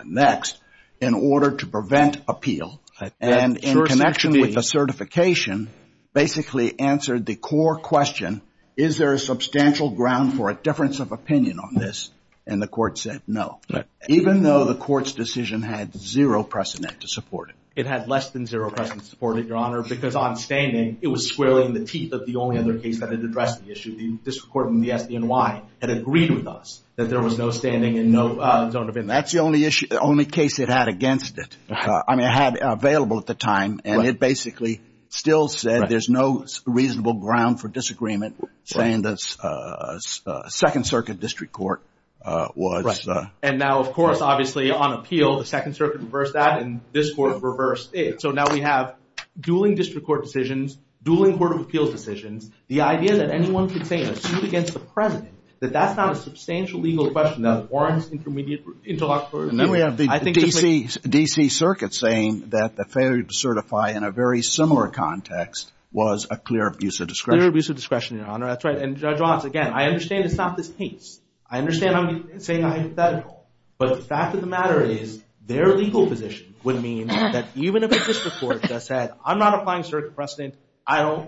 next, in order to prevent appeal. And in connection with the certification, basically answered the core question, is there a substantial ground for a difference of opinion on this? And the court said no. Even though the court's decision had zero precedent to support it. It had less than zero precedent to support it, Your Honor, because on standing, it was squarely in the teeth of the only other case that had addressed the issue. The district court in NY had agreed with us that there was no standing and no... That's the only issue, only case it had against it. I mean, it had it available at the time, and it basically still said there's no reasonable ground for disagreement, saying the Second Circuit District Court was... And now, of course, obviously, on appeal, the Second Circuit reversed that, and this court reversed it. So now we have dueling district court decisions, dueling court of appeals decisions, the idea that anyone could say a suit against the president, that that's not a substantial legal question that warrants intermediate... DC Circuit saying that the failure to certify in a very similar context was a clear abuse of discretion. Clear abuse of discretion, Your Honor. That's right. And Judge Ross, again, I understand it's not this case. I understand I'm saying I'm hypothetical, but the fact of the matter is, their legal position would mean that even if a district court just said, I'm not applying circuit precedent, I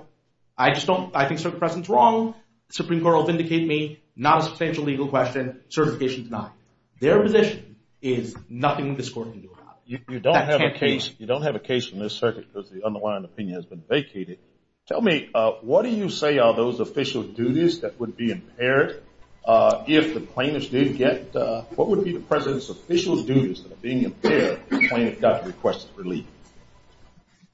think circuit precedent's wrong, Supreme Court will vindicate me, not a substantial legal question, certification's not. Their position is nothing this court can do about it. You don't have a case from this circuit because the underlying opinion has been vacated. Tell me, what do you say are those official duties that would be impaired if the plaintiffs didn't get...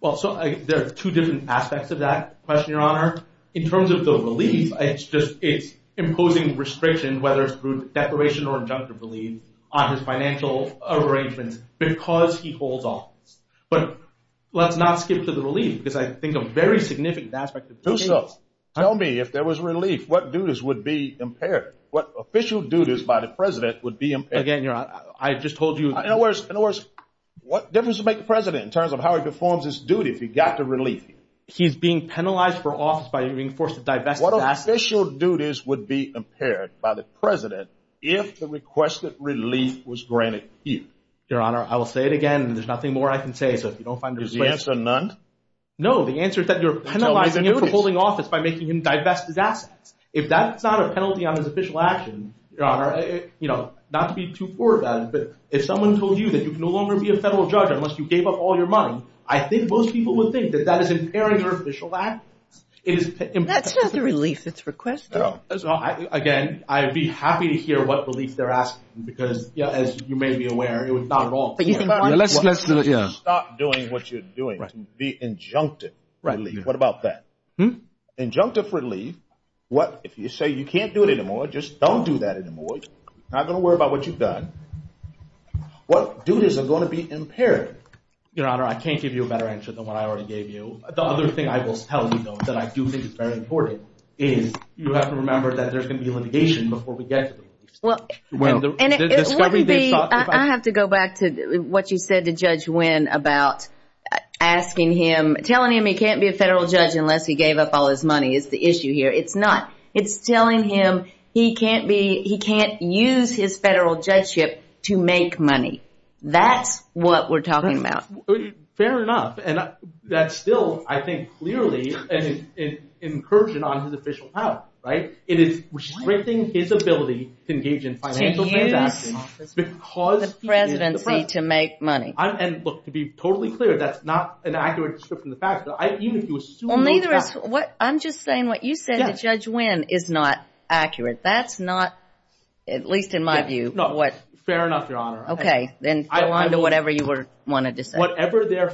Well, so there are two different aspects of that question, Your Honor. In terms of the relief, it's imposing restriction, whether it's through declaration or injunctive relief, on his financial arrangements because he holds office. But let's not skip to the relief because I think a very significant aspect... Tell me, if there was relief, what duties would be impaired? What official duties by the president would be impaired? Again, I just told you... In other words, what difference would it make to the president in terms of how he performs his duty if he got the relief? He's being penalized for office by being forced to divest his assets. What official duties would be impaired by the president if the requested relief was granted to him? Your Honor, I will say it again and there's nothing more I can say, so if you don't mind... Is the answer none? No, the answer is that you're penalizing him for holding office by making him divest his assets. If that's not a penalty on his official actions, Your Honor, not to be too poor about it, but if someone told you that you can no longer be a federal judge unless you gave up all your money, I think most people would think that that is impairing your official actions. That's not the relief that's requested. Again, I'd be happy to hear what relief they're asking because as you may be aware, it was not at all... Stop doing what you're doing. The injunctive relief, what about that? Injunctive relief, if you say you can't do it anymore, just don't do that anymore. Not going to worry about what you've done. What you do is going to be impairing. Your Honor, I can't give you a better answer than what I already gave you. The other thing I will tell you, though, that I do think is very important is you have to remember that there's going to be litigation before we get... I have to go back to what you said to Judge Wynn about asking him... telling him he can't be a federal judge unless he gave up all his money is the issue here. It's not. It's telling him he can't be... he can't use his federal judgeship to make money. That's what we're talking about. Fair enough. And that's still, I think, clearly an incursion on his official power, right? It is restricting his ability to engage in financial transactions because he is the president. The presidency to make money. And look, to be totally clear, that's not an accurate description of the facts. I mean, if you assume... I'm just saying what you said to Judge Wynn is not accurate. That's not, at least in my view, what... Fair enough, Your Honor. Okay. Then go on to whatever you wanted to say. Whatever their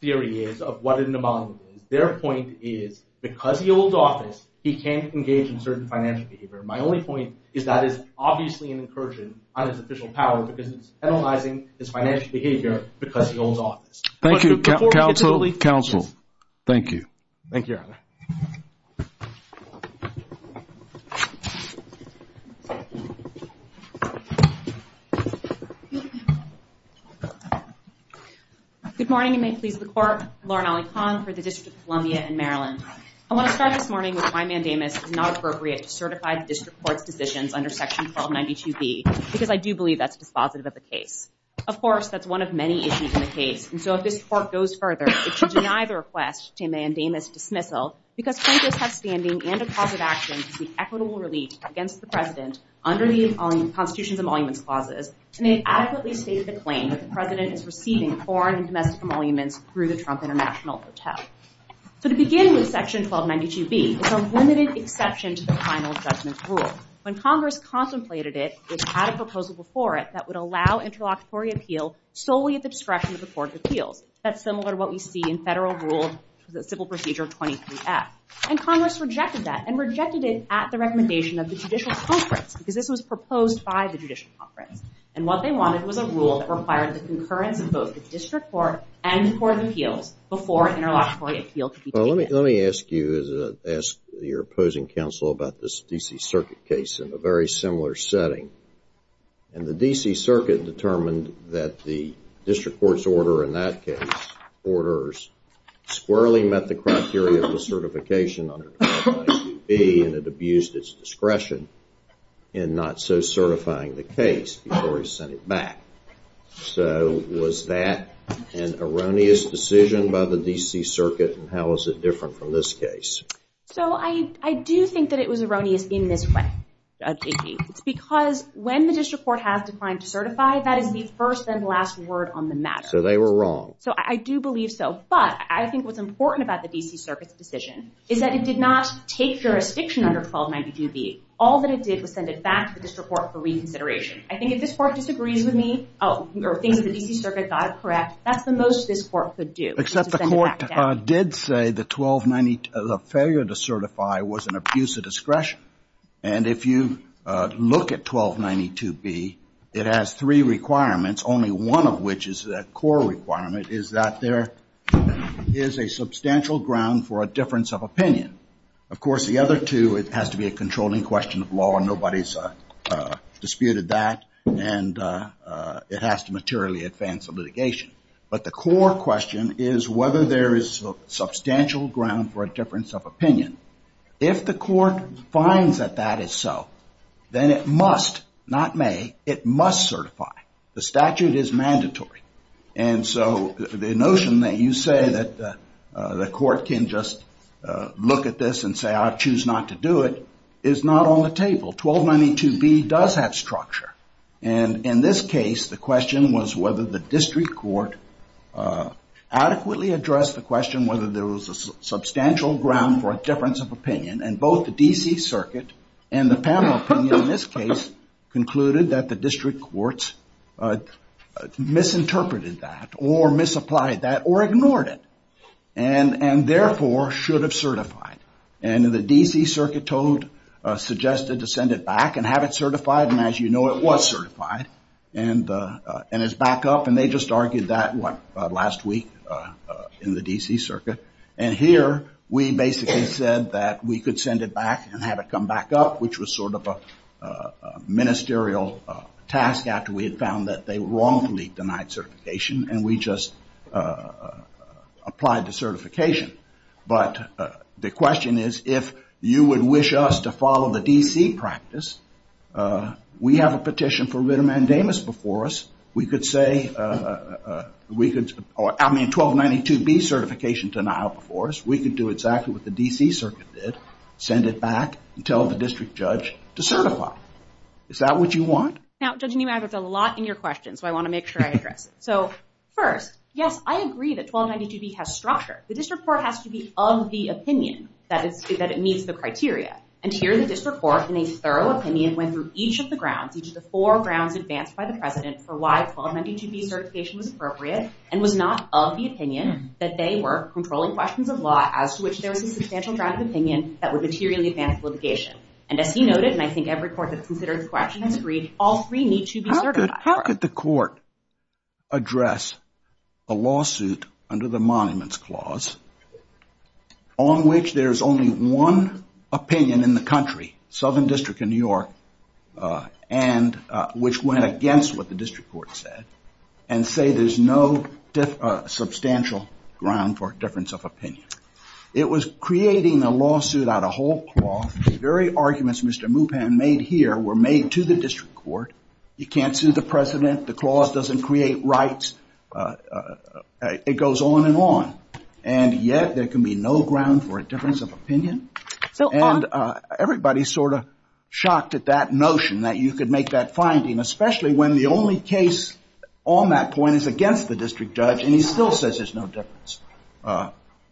theory is of what a mnemonic is, their point is because he holds office, he can't engage in certain financial behavior. My only point is that is obviously an incursion on his official power because he's penalizing his financial behavior because he holds office. Thank you. Counsel. Counsel. Thank you. Thank you, Your Honor. Good morning, and may it please the Court. Lauren Ali Khan for the District of Columbia in Maryland. I want to start this morning with my mandate that it is not appropriate to certify district court positions under Section 1292B because I do believe that's a positive of the case. Of course, that's one of many issues in the case. And so if this Court goes further, it should deny the request to mandamus dismissal because Congress has standing and a cause of action to be equitable relief against the President under the Constitution's emoluments clauses, and they adequately stated the claim that the President is receiving foreign and domestic emoluments through the Trump International Hotel. So the beginning of Section 1292B was a limited exception to the final assessment rule. When Congress contemplated it, it had a proposal before it that would allow interlocutory appeal solely at the discretion of the Court of Appeals. That's similar to what we see in federal rules for the Civil Procedure 23F. And Congress rejected that and rejected it at the recommendation of the Judicial Conference because this was proposed by the Judicial Conference. And what they wanted was a rule that required the concurrence of both the district court and the Court of Appeals before interlocutory appeal could be taken. Well, let me ask you as your opposing counsel about this D.C. Circuit case in a very similar setting. And the D.C. Circuit determined that the district court's order in that case orders squarely met the criteria for certification under 1292B and it abused its discretion in not so certifying the case before it was sent back. So was that an erroneous decision by the D.C. Circuit, and how is it different from this case? So I do think that it was erroneous in this way. Because when the district court has declined to certify, that is the first and last word on the matter. So they were wrong. So I do believe so. But I think what's important about the D.C. Circuit's decision is that it did not take jurisdiction under 1292B. All that it did was send it back to the district court for reconsideration. I think if this court disagrees with me or thinks the D.C. Circuit got it correct, that's the most this court could do. Except the court did say the 1292, the failure to certify was an abuse of discretion. And if you look at 1292B, it has three requirements, only one of which is that core requirement, is that there is a substantial ground for a difference of opinion. Of course, the other two, it has to be a controlling question of law, and nobody's disputed that, and it has to materially advance the litigation. But the core question is whether there is substantial ground for a difference of opinion. If the court finds that that is so, then it must, not may, it must certify. The statute is mandatory. And so the notion that you say that the court can just look at this and say, I choose not to do it, is not on the table. 1292B does have structure, and in this case, the question was whether the district court adequately addressed the question whether there was a substantial ground for a difference of opinion, and both the D.C. Circuit and the panel opinion in this case concluded that the district courts misinterpreted that or misapplied that or ignored it, and therefore should have certified it. And the D.C. Circuit suggested to send it back and have it certified, and as you know, it was certified, and it's back up, and they just argued that last week in the D.C. Circuit. And here, we basically said that we could send it back and have it come back up, which was sort of a ministerial task after we had found that they wrongfully denied certification, and we just applied the certification. But the question is, if you would wish us to follow the D.C. practice, we have a petition for writ of mandamus before us. We could say 1292B certification denied before us. We could do exactly what the D.C. Circuit did, send it back and tell the district judge to certify. Is that what you want? Now, Judge Newman, I have a lot in your question, so I want to make sure I address it. So first, yes, I agree that 1292B has structure. The district court has to be of the opinion that it meets the criteria, and here the district court, in a thorough opinion, went through each of the grounds, for why 1292B certification was appropriate and was not of the opinion that they were controlling questions of law as to which there would be substantial grounds of opinion that would materially advance litigation. And as he noted, and I think every court has considered the question and agreed, all three need to be certified. How could the court address a lawsuit under the Monuments Clause on which there's only one opinion in the country, Southern District of New York, and which went against what the district court said, and say there's no substantial ground for a difference of opinion? It was creating a lawsuit out of whole cloth. The very arguments Mr. Mupan made here were made to the district court. You can't sue the president. The clause doesn't create rights. It goes on and on. And yet there can be no ground for a difference of opinion? And everybody's sort of shocked at that notion, that you could make that finding, especially when the only case on that point is against the district judge, and he still says there's no difference.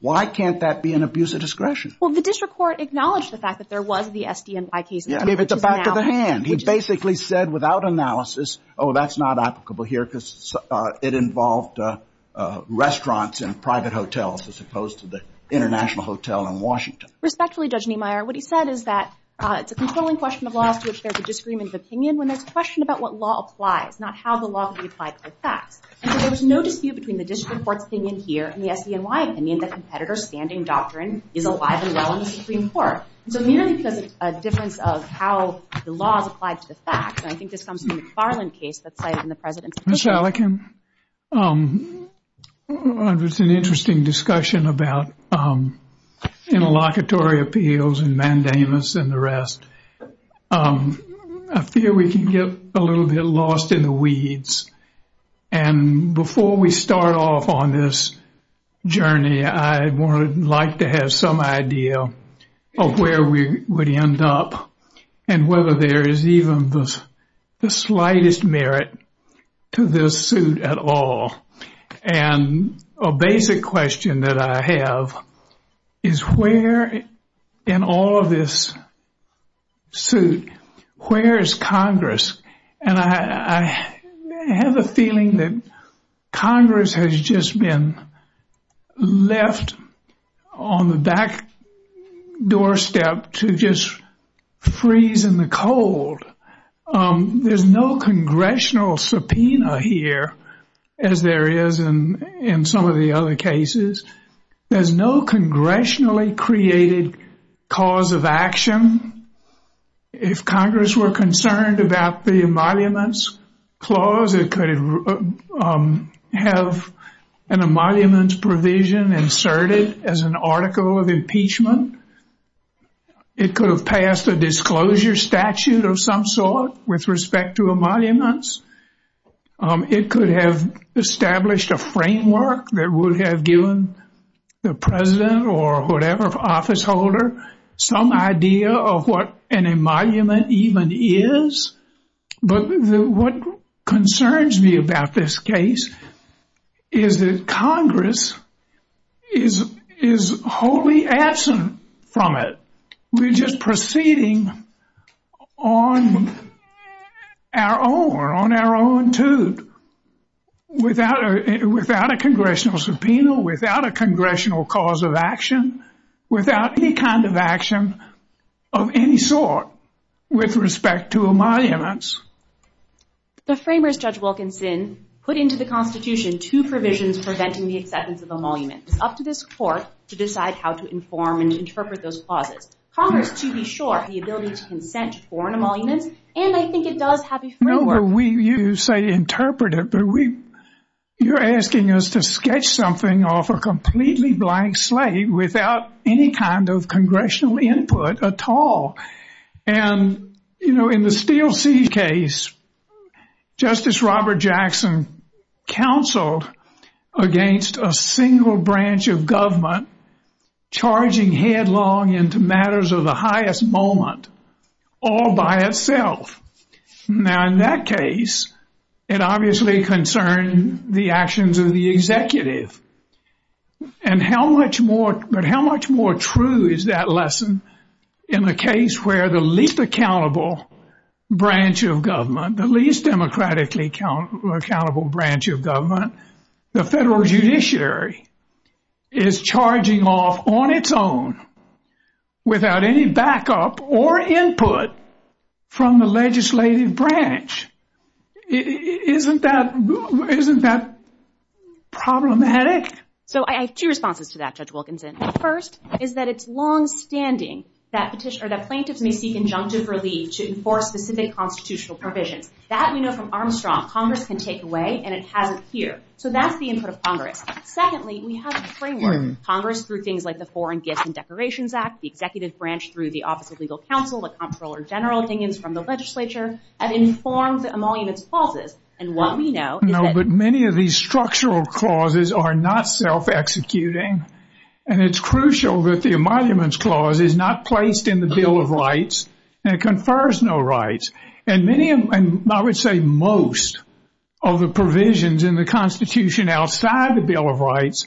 Why can't that be an abuse of discretion? Well, the district court acknowledged the fact that there was the SD&I case. It's a fact of the hand. He basically said without analysis, oh, that's not applicable here because it involved restaurants and private hotels as opposed to the International Hotel in Washington. Respectfully, Judge Niemeyer, what he said is that it's a controlling question of law to assure the disagreement's opinion when there's a question about what law applies, not how the law can be applied to the fact. And so there's no dispute between the district court's opinion here and the SD&I opinion that competitor's standing doctrine is applied to law in the Supreme Court. So there is a difference of how the law applies to the fact, and I think this comes from the Farland case that's cited in the president's opinion. Mr. Allikin, there was an interesting discussion about interlocutory appeals and mandamus and the rest. I fear we can get a little bit lost in the weeds, and before we start off on this journey, I would like to have some idea of where we would end up and whether there is even the slightest merit to this suit at all. And a basic question that I have is where in all of this suit, where is Congress? And I have a feeling that Congress has just been left on the back doorstep to just freeze in the cold. There's no congressional subpoena here, as there is in some of the other cases. There's no congressionally created cause of action. If Congress were concerned about the emoluments clause, it could have an emoluments provision inserted as an article of impeachment. It could have passed a disclosure statute of some sort with respect to emoluments. It could have established a framework that would have given the president or whatever officeholder some idea of what an emolument even is. But what concerns me about this case is that Congress is wholly absent from it. We're just proceeding on our own, or on our own two, without a congressional subpoena, without a congressional cause of action, without any kind of action of any sort with respect to emoluments. The framers, Judge Wilkinson, put into the Constitution two provisions preventing the acceptance of emoluments. It's up to this court to decide how to inform and interpret those clauses. Congress, to be sure, has the ability to consent to foreign emoluments, and I think it does have a framework. You say interpret it, but you're asking us to sketch something off a completely blank slate without any kind of congressional input at all. And, you know, in the Steele C case, Justice Robert Jackson counseled against a single branch of government charging headlong into matters of the highest moment all by itself. Now, in that case, it obviously concerned the actions of the executive. But how much more true is that lesson in the case where the least accountable branch of government, the least democratically accountable branch of government, the federal judiciary, is charging off on its own without any backup or input from the legislative branch? Isn't that problematic? So I have two responses to that, Judge Wilkinson. The first is that it's longstanding that plaintiffs may seek injunctive relief to enforce specific constitutional provisions. That we know from Armstrong Congress can take away, and it has it here. So that's the input of Congress. Secondly, we have a framework. Congress, through things like the Foreign Gifts and Declarations Act, the executive branch through the Office of Legal Counsel, things from the legislature, have informed emoluments clauses. And what we know is that- No, but many of these structural clauses are not self-executing. And it's crucial that the emoluments clause is not placed in the Bill of Rights and confers no rights. And I would say most of the provisions in the Constitution outside the Bill of Rights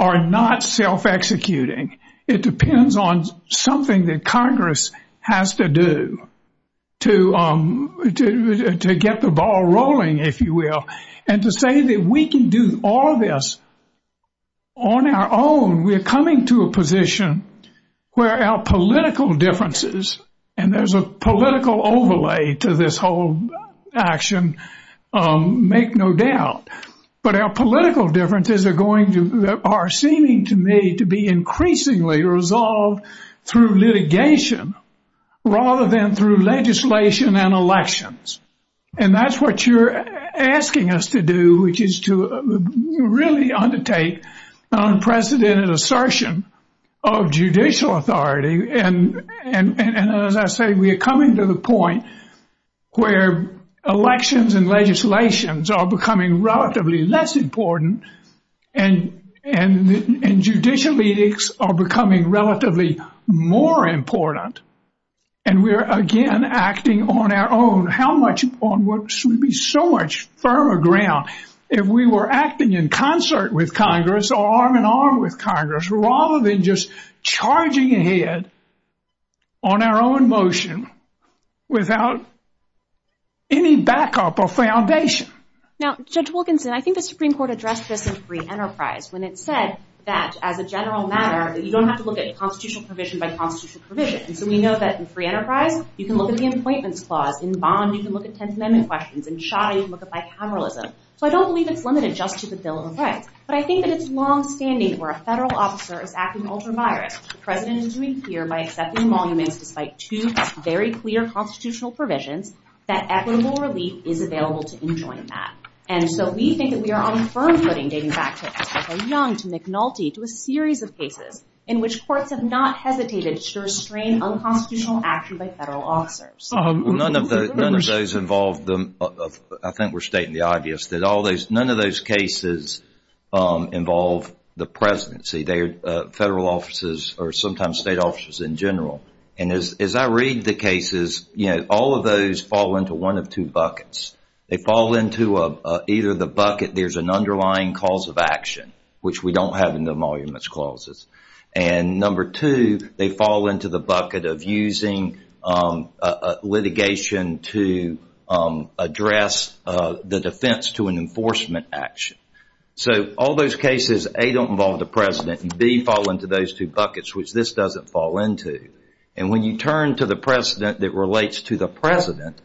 are not self-executing. It depends on something that Congress has to do to get the ball rolling, if you will. And to say that we can do all this on our own, we're coming to a position where our political differences, and there's a political overlay to this whole action, make no doubt. But our political differences are seeming to me to be increasingly resolved through litigation rather than through legislation and elections. And that's what you're asking us to do, which is to really undertake unprecedented assertion of judicial authority. And as I say, we're coming to the point where elections and legislations are becoming relatively less important, and judicial ethics are becoming relatively more important. And we're, again, acting on our own. How much on what should be so much firmer ground? If we were acting in concert with Congress or arm-in-arm with Congress rather than just charging ahead on our own motion without any backup or foundation. Now, Judge Wilkinson, I think the Supreme Court addressed this in free enterprise when it said that as a general matter, that you don't have to look at constitutional provision by constitutional provision. And so we know that in free enterprise, you can look at the appointments clause. In bonds, you can look at Tenth Amendment questions. In shoddy, you can look at bicameralism. So I don't believe it's limited just to the bill of rights. But I think that it's longstanding where a federal officer is acting ultramarine, which the President is doing here by accepting monuments despite two very clear constitutional provisions, that equitable relief is available to enjoin that. And so we think that we are on a firm footing, dating back to Michael Young, to McNulty, to a series of cases, in which courts have not hesitated to restrain unconstitutional action by federal officers. None of those involve, I think we're stating the obvious, that none of those cases involve the presidency. They're federal officers or sometimes state officers in general. And as I read the cases, you know, all of those fall into one of two buckets. They fall into either the bucket, there's an underlying cause of action, which we don't have in the monuments clauses. And number two, they fall into the bucket of using litigation to address the defense to an enforcement action. So all those cases, A, don't involve the President, and B, fall into those two buckets, which this doesn't fall into. And when you turn to the President that relates to the President,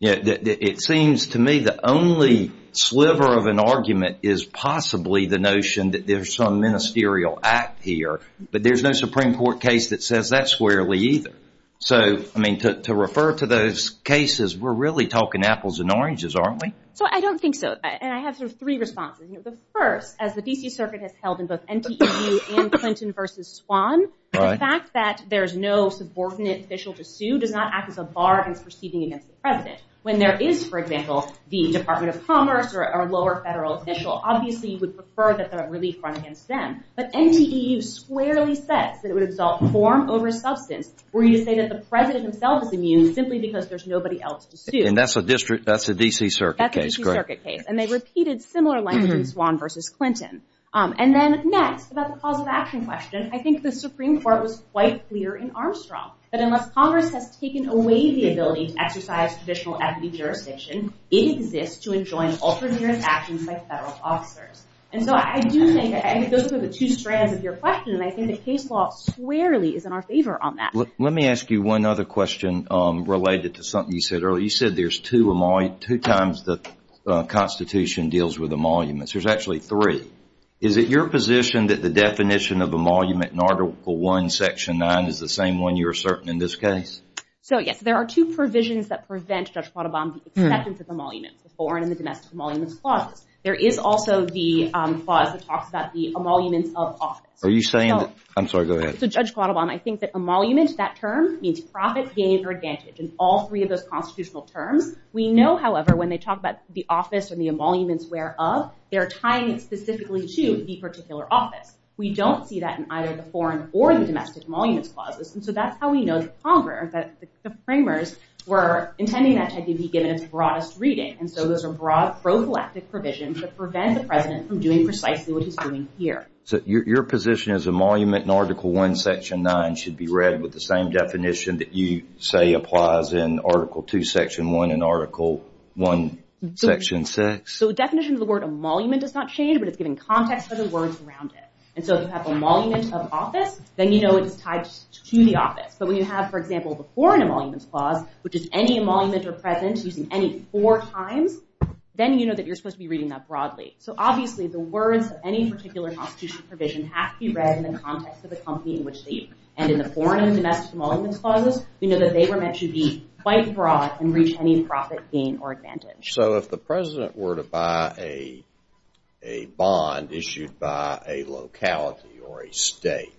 It seems to me the only sliver of an argument is possibly the notion that there's some ministerial act here, but there's no Supreme Court case that says that squarely either. So, I mean, to refer to those cases, we're really talking apples and oranges, aren't we? So I don't think so. And I have three responses. First, as the V.C. Circuit has held in both NPPG and Clinton v. Swan, the fact that there's no subordinate official to sue does not act as a bar in proceeding against the President. When there is, for example, the Department of Commerce or a lower federal official, obviously you would prefer that the relief fund against them. But NPPG squarely says that it would result in form over substance, where you say that the President himself is immune simply because there's nobody else to sue. And that's a D.C. Circuit case, correct? That's a D.C. Circuit case. And they repeated similar lines in Swan v. Clinton. And then next, about the cause of action question, I think the Supreme Court was quite clear in Armstrong that unless Congress has taken away the ability to exercise provisional equity jurisdiction, it exists to enjoin ultramarine actions by federal officers. And so I do think that those are the two strands of your question, and I think the case law squarely is in our favor on that. Let me ask you one other question related to something you said earlier. You said there's two times the Constitution deals with emoluments. There's actually three. Is it your position that the definition of emolument in Article I, Section 9, is the same one you're asserting in this case? So, yes, there are two provisions that prevent Judge Quattlebaum's acceptance of emoluments, the foreign and the domestic emoluments clause. There is also the clause that talks about the emoluments of office. Are you saying that – I'm sorry, go ahead. So, Judge Quattlebaum, I think that emoluments, that term, means profit, gain, or advantage. In all three of those constitutional terms, we know, however, when they talk about the office or the emoluments whereof, they're tying it specifically to the particular office. We don't see that in either the foreign or the domestic emoluments clause. And so that's how we know the Congress, the Supremers, were intending that to be given its broadest reading. And so those are broad, pro-galactic provisions that prevent the President from doing precisely what he's doing here. So your position is emolument in Article I, Section 9, should be read with the same definition that you say applies in Article II, Section 1, and Article I, Section 6? So the definition of the word emolument is not changed, but it's given context for the words around it. And so if you have emoluments of office, then you know it's tied to the office. So when you have, for example, the foreign emoluments clause, which is any emoluments are present using any four times, then you know that you're supposed to be reading that broadly. So obviously, the words of any particular constitutional provision have to be read in the context of a company in which state. And in the foreign and domestic emoluments clause, you know that they were meant to be quite broad and reach any profit, gain, or advantage. So if the President were to buy a bond issued by a locality or a state,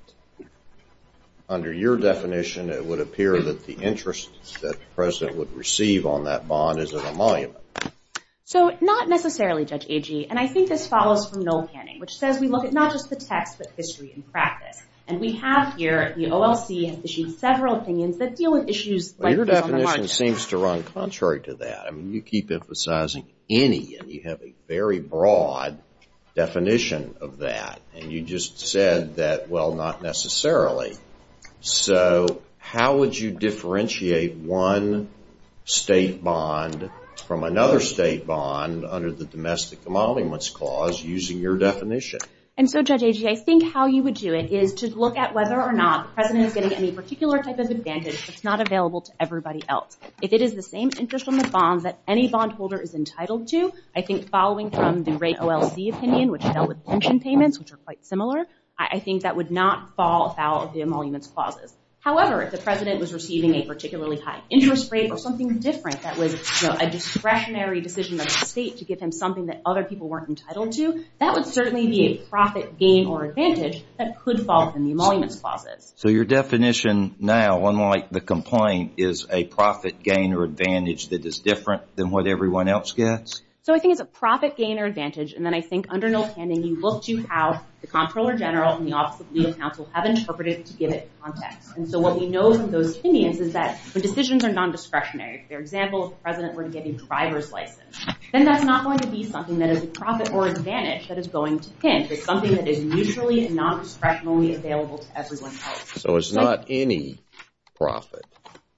under your definition, it would appear that the interest that the President would receive on that bond is an emolument. So not necessarily, Judge Agee. And I think this follows from mill scanning, which says we look at not just the text, but history and practice. And we have here at the OLC issued several opinions that deal with issues like Your definition seems to run contrary to that. I mean, you keep emphasizing any, and you have a very broad definition of that. And you just said that, well, not necessarily. So how would you differentiate one state bond from another state bond under the domestic emoluments clause using your definition? And so, Judge Agee, I think how you would do it is just look at whether or not the President is getting any particular type of advantage that's not available to everybody else. If it is the same interest on the bond that any bondholder is entitled to, I think following from the rate OLC opinion, which dealt with pension payments, which are quite similar, I think that would not fall about the emoluments clauses. However, if the President was receiving a particularly high interest rate or something different that was a discretionary decision by the state to give him something that other people weren't entitled to, that would certainly be a profit, gain, or advantage that could fall to the emoluments clauses. So your definition now, unlike the complaint, is a profit, gain, or advantage that is different than what everyone else gets? So I think it's a profit, gain, or advantage, and then I think under no standing you look to how the Comptroller General and the Office of Legal Counsel have interpreted it to give it context. And so what we know from those opinions is that when decisions are non-discretionary, for example, if the President weren't getting a driver's license, then that's not going to be something that is a profit or advantage that is going to pinch. It's something that is mutually and non-discretionally available to everyone else. So it's not any profit.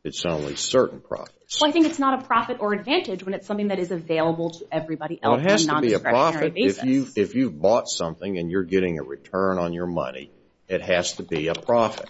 It's only certain profits. So I think it's not a profit or advantage when it's something that is available to everybody else in a non-discretionary basis. Well, it has to be a profit if you bought something and you're getting a return on your money. It has to be a profit.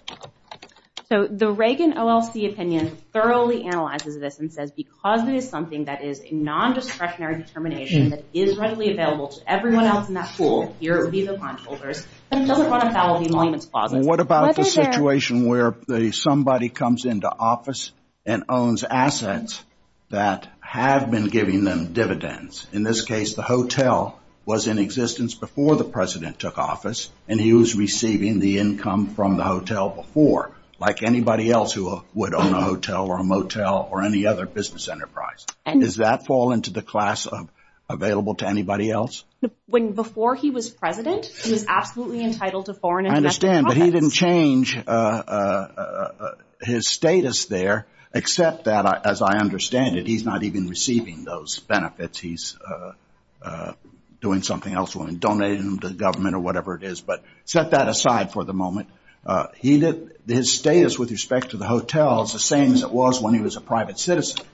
So the Reagan OLC opinion thoroughly analyzes this and says because it is something that is a non-discretionary determination that is readily available to everyone else in that pool, here it would be the bondholders. And so the bottom line of that would be money in the pocket. What about the situation where somebody comes into office and owns assets that have been giving them dividends? In this case, the hotel was in existence before the President took office, and he was receiving the income from the hotel before, like anybody else who would own a hotel or a motel or any other business enterprise. Does that fall into the class of available to anybody else? Before he was President, he was absolutely entitled to foreign investment. I understand, but he didn't change his status there, except that, as I understand it, he's not even receiving those benefits. He's doing something else. He donated them to the government or whatever it is. But set that aside for the moment. His status with respect to the hotel is the same as it was when he was a private citizen,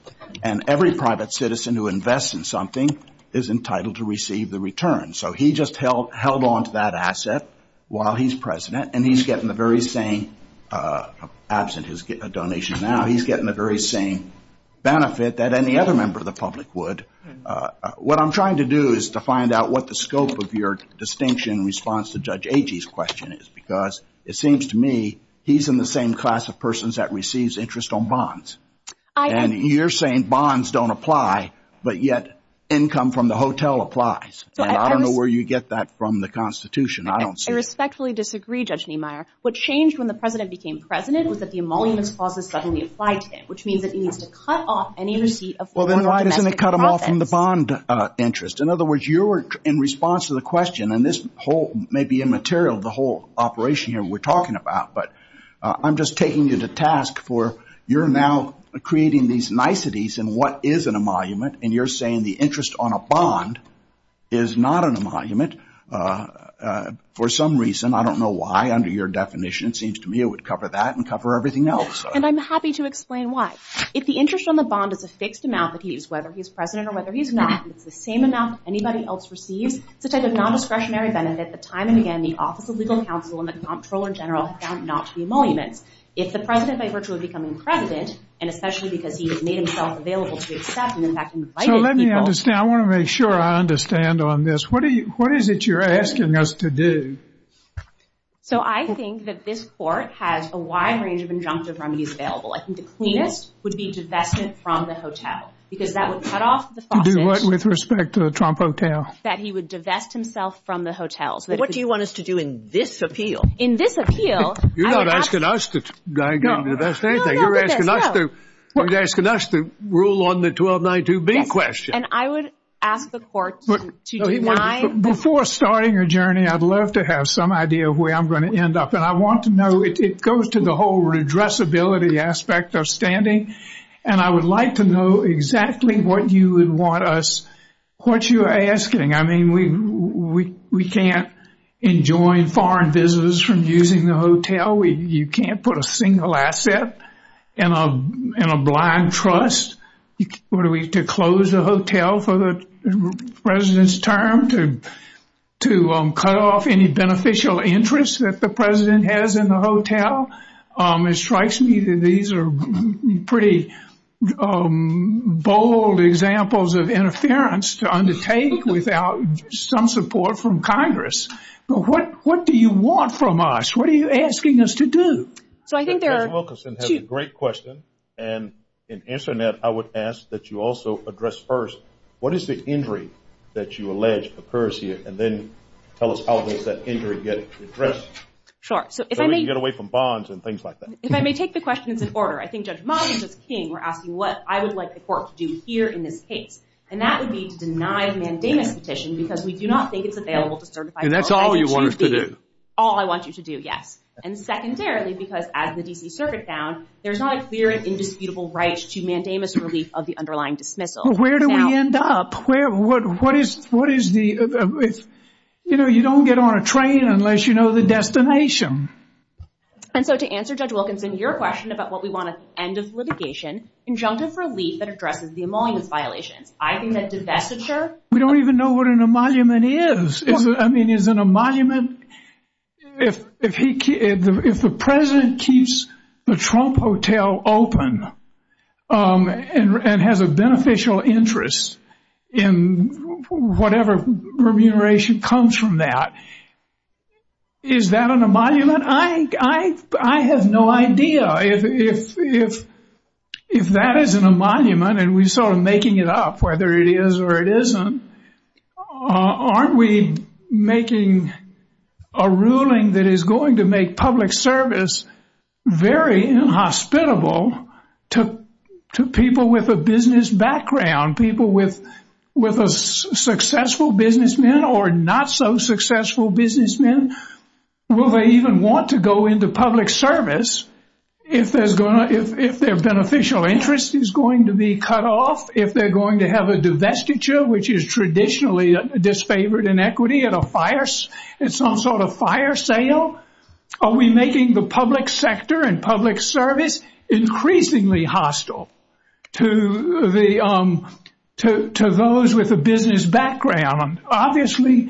and every private citizen who invests in something is entitled to receive the return. So he just held on to that asset while he's President, and he's getting the very same, absent his donation now, he's getting the very same benefit that any other member of the public would. What I'm trying to do is to find out what the scope of your distinction in response to Judge Agee's question is, because it seems to me he's in the same class of persons that receives interest on bonds. And you're saying bonds don't apply, but yet income from the hotel applies. And I don't know where you get that from the Constitution. I don't see it. I respectfully disagree, Judge Niemeyer. What changed when the President became President was that the emoluments clause was suddenly applied to him, which means that he needs to cut off any receipt of foreign investment. Well, then why doesn't it cut him off from the bond interest? In other words, you're in response to the question, and this may be immaterial, the whole operation here we're talking about, but I'm just taking you to task for you're now creating these niceties in what is an emolument, and you're saying the interest on a bond is not an emolument. For some reason, I don't know why, under your definition, it seems to me it would cover that and cover everything else. And I'm happy to explain why. If the interest on the bond is the fixed amount that he is, whether he's President or whether he's not, and it's the same amount that anybody else receives, such as a nondiscretionary benefit, at the time and again, the Office of Legal Counsel and the Comptroller in general have found it not to be an emolument. If the President, by virtue of becoming President, and especially because he has made himself available to accept, and, in fact, invited himself— So let me understand. I want to make sure I understand on this. What is it you're asking us to do? So I think that this Court has a wide range of injunctive remedies available. I think the cleanest would be dissection from the hotel because that would cut off the— Do what with respect to the Trump Hotel? That he would divest himself from the hotel. What do you want us to do in this appeal? In this appeal— You're not asking us to divest anything. You're asking us to rule on the 1292B question. And I would ask the Court to deny— Before starting a journey, I'd love to have some idea of where I'm going to end up. And I want to know—it goes to the whole redressability aspect of standing, and I would like to know exactly what you would want us— What you're asking. I mean, we can't enjoin foreign visitors from using the hotel. You can't put a single asset in a blind trust. What are we, to close the hotel for the president's terms or to cut off any beneficial interest that the president has in the hotel? It strikes me that these are pretty bold examples of interference to undertake without some support from Congress. What do you want from us? What are you asking us to do? So I think there are two— Dr. Wilkerson has a great question. And in answering that, I would ask that you also address first, what is the injury that you allege occurs here? And then tell us how does that injury get addressed? Sure. So you get away from bonds and things like that. If I may take the questions in order, I think Judge Miles and Judge King were asking what I would like the court to do here in this case, and that would be to deny the mandamus petition because we do not think it's available to certify— And that's all you want us to do. All I want you to do, yes. And secondarily, because as the D.C. Circuit found, there's not a clear and indisputable right to mandamus relief of the underlying dismissal. But where do we end up? What is the— You know, you don't get on a train unless you know the destination. And so to answer Judge Wilkerson's question about what we want to end as litigation, injunctive relief that addresses the emolument violation. I think that's a disaster. We don't even know what an emolument is. I mean, is an emolument— If the president keeps the Trump Hotel open and has a beneficial interest in whatever remuneration comes from that, is that an emolument? I have no idea. If that isn't an emolument, and we're sort of making it up whether it is or it isn't, aren't we making a ruling that is going to make public service very inhospitable to people with a business background, people with successful businessmen or not-so-successful businessmen? Will they even want to go into public service if their beneficial interest is going to be cut off, if they're going to have a divestiture, which is traditionally a disfavored inequity, at some sort of fire sale? Are we making the public sector and public service increasingly hostile to those with a business background? Obviously,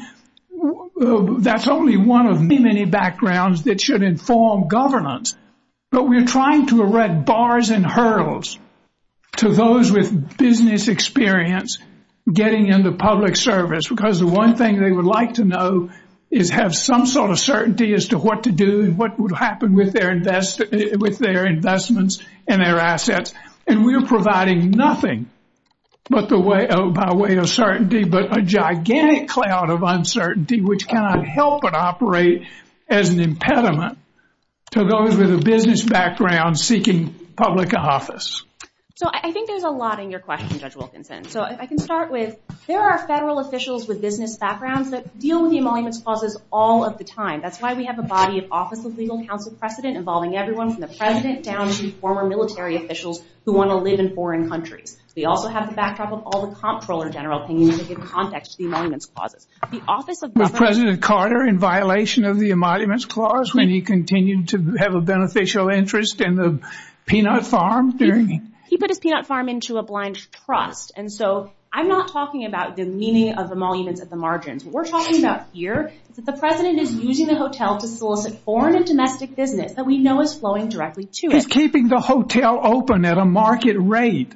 that's only one of many, many backgrounds that should inform governance, but we're trying to erect bars and hurdles to those with business experience getting into public service because the one thing they would like to know is have some sort of certainty as to what to do and what would happen with their investments and their assets. And we're providing nothing by way of certainty but a gigantic cloud of uncertainty, which cannot help but operate as an impediment to those with a business background seeking public office. So I think there's a lot in your question, Judge Wilkinson. So if I can start with, there are federal officials with business backgrounds that deal with emoluments clauses all of the time. That's why we have a body of office with legal counsel precedent involving everyone from the president down to former military officials who want to live in foreign countries. We also have the backdrop of all the comptroller generals who need to give context to the emoluments clauses. Was President Carter in violation of the emoluments clause when he continued to have a beneficial interest in the peanut farm? He put a peanut farm into a blind trust. And so I'm not talking about the meaning of the emoluments at the margins. What we're talking about here is that the president is using the hotel to solicit foreign and domestic business that we know is floating directly to it. He's keeping the hotel open at a market rate.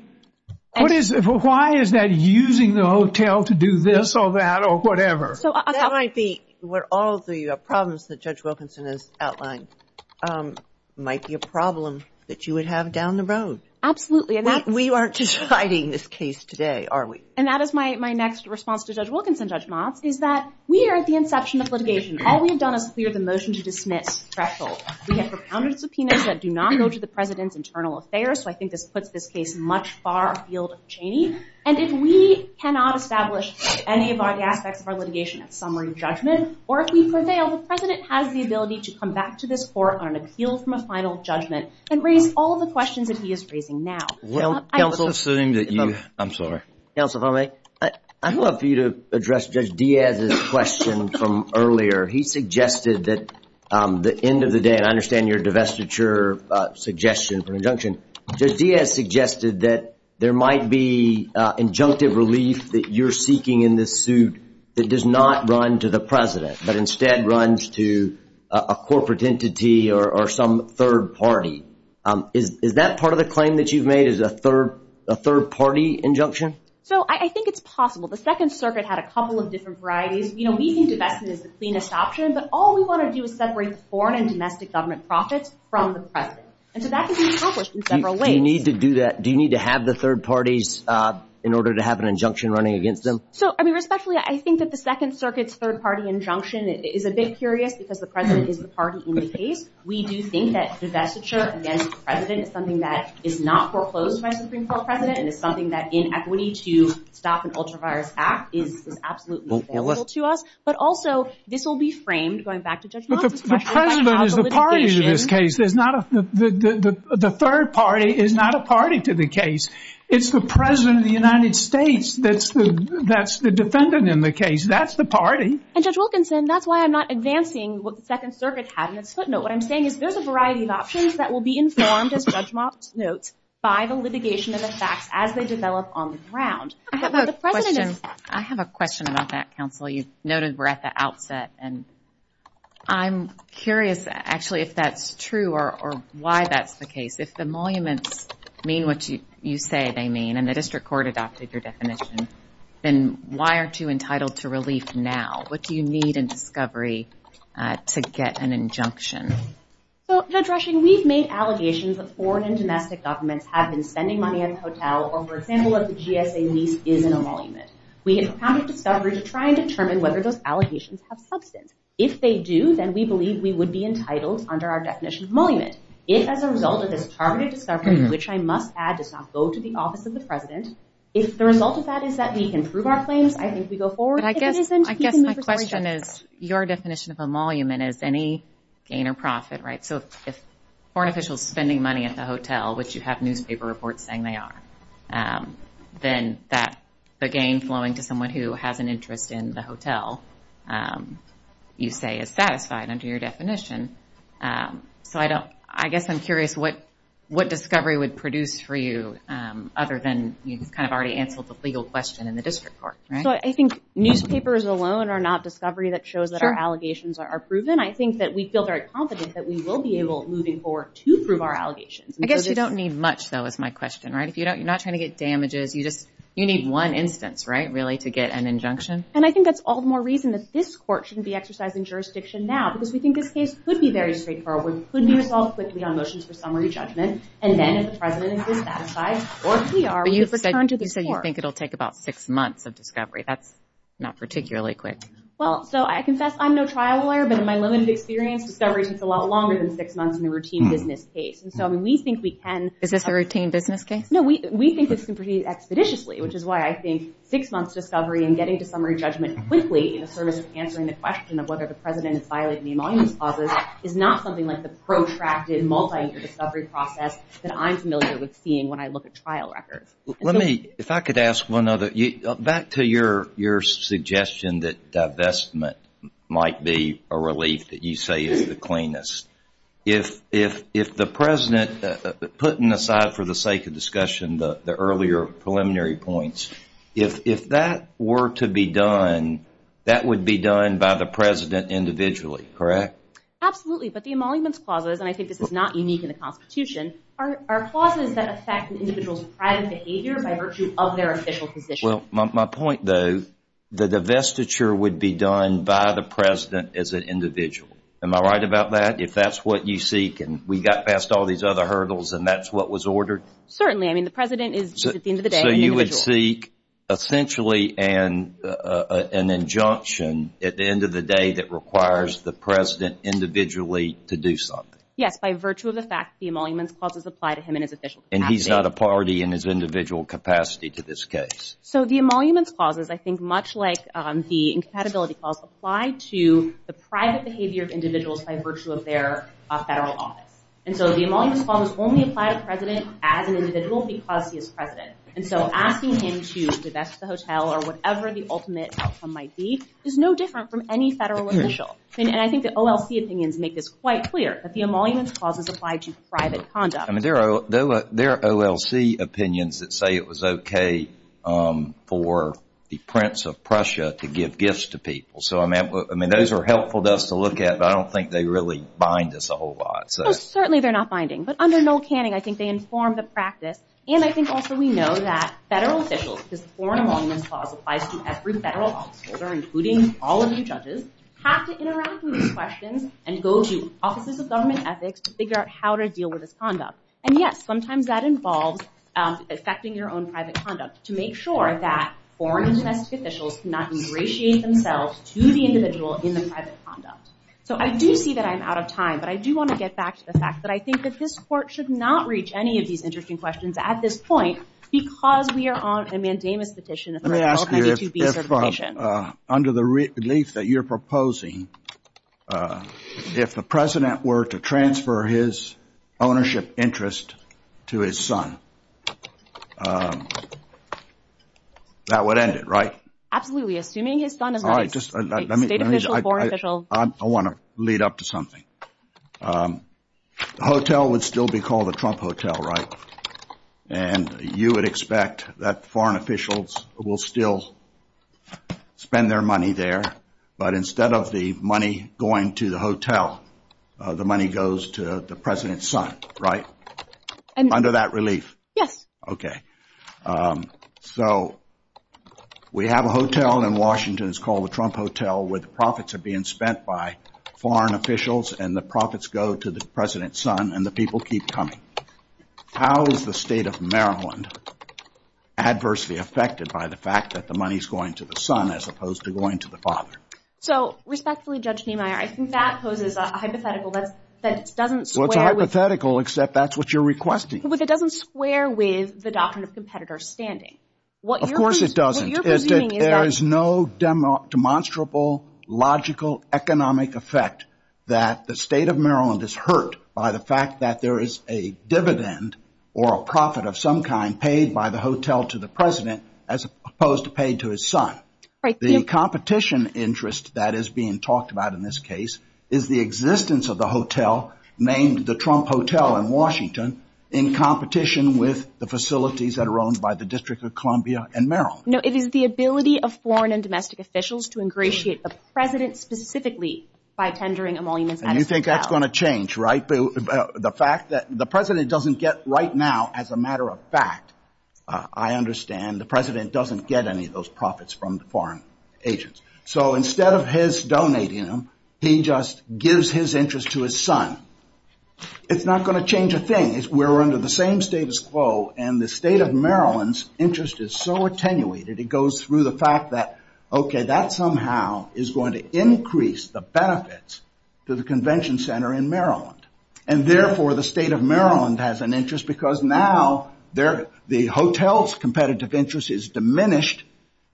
Why is that using the hotel to do this or that or whatever? That might be one of the problems that Judge Wilkinson has outlined. It might be a problem that you would have down the road. Absolutely. We aren't just fighting this case today, are we? And that is my next response to Judge Wilkinson, Judge Moss, is that we are at the inception of litigation. We have not done a clear motion to dismiss thresholds. We have profounded subpoenas that do not go to the president's internal affairs, so I think this puts this case much far afield of Cheney. And if we cannot establish any of our aspects of our litigation as summary judgment, or if we prevail, the president has the ability to come back to this court on an appeal from a final judgment and bring all of the questions that he is raising now. Counsel, I'm sorry. Counsel Foley, I'd love for you to address Judge Diaz's question from earlier. He suggested that the end of the day, and I understand your divestiture suggestion for injunction, Judge Diaz suggested that there might be injunctive relief that you're seeking in this suit that does not run to the president, but instead runs to a corporate entity or some third party. Is that part of the claim that you've made, is a third party injunction? So I think it's possible. The Second Circuit had a couple of different varieties. You know, we can do that as a subpoenaed option, but all we want to do is separate foreign and domestic government profits from the president. And so that can be accomplished in several ways. Do you need to do that? Do you need to have the third parties in order to have an injunction running against them? So, I mean, especially I think that the Second Circuit's third party injunction is a bit curious because the president is the party in the case. We do think that divestiture against the president is something that is not foreclosed by the Supreme Court president and is something that inequity to stop an ultraviolet act is absolutely essential to us. But also, this will be framed, going back to Judge Wilkinson. The president is the party to this case. The third party is not a party to the case. It's the president of the United States that's the defendant in the case. That's the party. And Judge Wilkinson, that's why I'm not advancing what the Second Circuit had in its footnote. What I'm saying is there's a variety of options that will be informed, as Judge Motz notes, by the litigation of the facts as they develop on the ground. I have a question about that, counsel. You noted we're at the outset, and I'm curious, actually, if that's true or why that's the case. If the monuments mean what you say they mean and the district court adopted your definition, then why aren't you entitled to release now? What do you need in discovery to get an injunction? Well, Judge Rushing, we've made allegations that foreign and domestic governments have been spending money on the hotel or were a sample of the GSA lease in a monument. We have found a discovery to try and determine whether those allegations have substance. If they do, then we believe we would be entitled under our definition of a monument. If, as a result of this targeted discovery, which I must add does not go to the office of the president, if the result of that is that we can prove our claims, I think we go forward. I guess my question is your definition of a monument is any gain or profit, right? So if foreign officials are spending money at the hotel, which you have newspaper reports saying they are, then that's a gain flowing to someone who has an interest in the hotel, you say, is satisfied under your definition. So I guess I'm curious what discovery would produce for you, other than you kind of already answered the legal question in the district court, right? So I think newspapers alone are not discovery that shows that our allegations are proven. I think that we feel very confident that we will be able moving forward to prove our allegations. I guess you don't need much, though, is my question, right? You're not trying to get damages. You need one instance, right, really, to get an injunction. And I think that's all the more reason that this court shouldn't be exercising jurisdiction now because we think this case could be very straightforward, could be resolved quickly on motion for summary judgment, and then if the president is satisfied, or if we are, the district court. But you said you think it'll take about six months of discovery. That's not particularly quick. Well, so I confess I'm no trial lawyer, but in my limited experience, discovery takes a lot longer than six months in a routine business case. And so we think we can— Is this a routine business case? No, we think this can proceed expeditiously, which is why I think six months' discovery and getting to summary judgment quickly is sort of answering the question of whether the president has violated any monument deposits is not something like the protracted multi-disciplinary process that I'm familiar with seeing when I look at trial records. Let me—if I could ask one other— back to your suggestion that divestment might be a relief that you say is the cleanest. If the president, putting aside for the sake of discussion the earlier preliminary points, if that were to be done, that would be done by the president individually, correct? Absolutely. But the emoluments clauses, and I think this is not unique in the Constitution, are clauses that affect an individual's private behavior by virtue of their official position. Well, my point, though, the divestiture would be done by the president as an individual. Am I right about that? If that's what you seek and we got past all these other hurdles and that's what was ordered? Certainly. I mean, the president is, at the end of the day, an individual. So you would seek essentially an injunction at the end of the day that requires the president individually to do something. Yes, by virtue of the fact the emoluments clauses apply to him in his official capacity. And he's not a party in his individual capacity to this case. So the emoluments clauses, I think, much like the incompatibility clause, apply to the private behavior of individuals by virtue of their federal office. And so the emoluments clause only applies to presidents as an individual because he is president. And so asking him to divest the hotel or whatever the ultimate outcome might be is no different from any federal official. And I think the OLC opinions make this quite clear that the emoluments clauses apply to private conduct. I mean, there are OLC opinions that say it was okay for the prince of Prussia to give gifts to people. So, I mean, those are helpful to us to look at, but I don't think they really bind us a whole lot. Well, certainly they're not binding. But under no canning, I think they inform the practice. And I think also we know that federal officials, because the foreign emoluments clause applies to every federal office holder, including all of the judges, have to interact with these questions and go to offices of government ethics to figure out how to deal with this conduct. And, yes, sometimes that involves effecting your own private conduct to make sure that foreign and domestic officials do not ingratiate themselves to the individual in the private conduct. So I do see that I'm out of time. But I do want to get back to the fact that I think that this court should not reach any of these interesting questions at this point because we are on a mandamus decision. Let me ask you, under the relief that you're proposing, if the president were to transfer his ownership interest to his son, that would end it, right? Absolutely. Assuming his son is not a state official or a foreign official. I want to lead up to something. The hotel would still be called the Trump Hotel, right? And you would expect that foreign officials will still spend their money there. But instead of the money going to the hotel, the money goes to the president's son, right? Under that relief. Yes. Okay. So we have a hotel in Washington. It's called the Trump Hotel where the profits are being spent by foreign officials and the profits go to the president's son and the people keep coming. How is the state of Maryland adversely affected by the fact that the money is going to the son as opposed to going to the father? So, respectfully, Judge Niemeyer, I think that poses a hypothetical that doesn't square with... Well, it's a hypothetical except that's what you're requesting. But it doesn't square with the doctrine of competitor standing. Of course it doesn't. What you're proposing is that... There is no demonstrable logical economic effect that the state of Maryland is hurt by the fact that there is a dividend or a profit of some kind paid by the hotel to the president as opposed to paid to his son. The competition interest that is being talked about in this case is the existence of the hotel named the Trump Hotel in Washington in competition with the facilities that are owned by the District of Columbia and Maryland. No, it is the ability of foreign and domestic officials to ingratiate the president specifically by tendering emoluments... And you think that's going to change, right? The fact that the president doesn't get right now, as a matter of fact, I understand the president doesn't get any of those profits from the foreign agents. So instead of his donating them, he just gives his interest to his son. It's not going to change a thing. We're under the same status quo, and the state of Maryland's interest is so attenuated, it goes through the fact that, okay, that somehow is going to increase the benefits to the convention center in Maryland. And, therefore, the state of Maryland has an interest because now the hotel's competitive interest is diminished,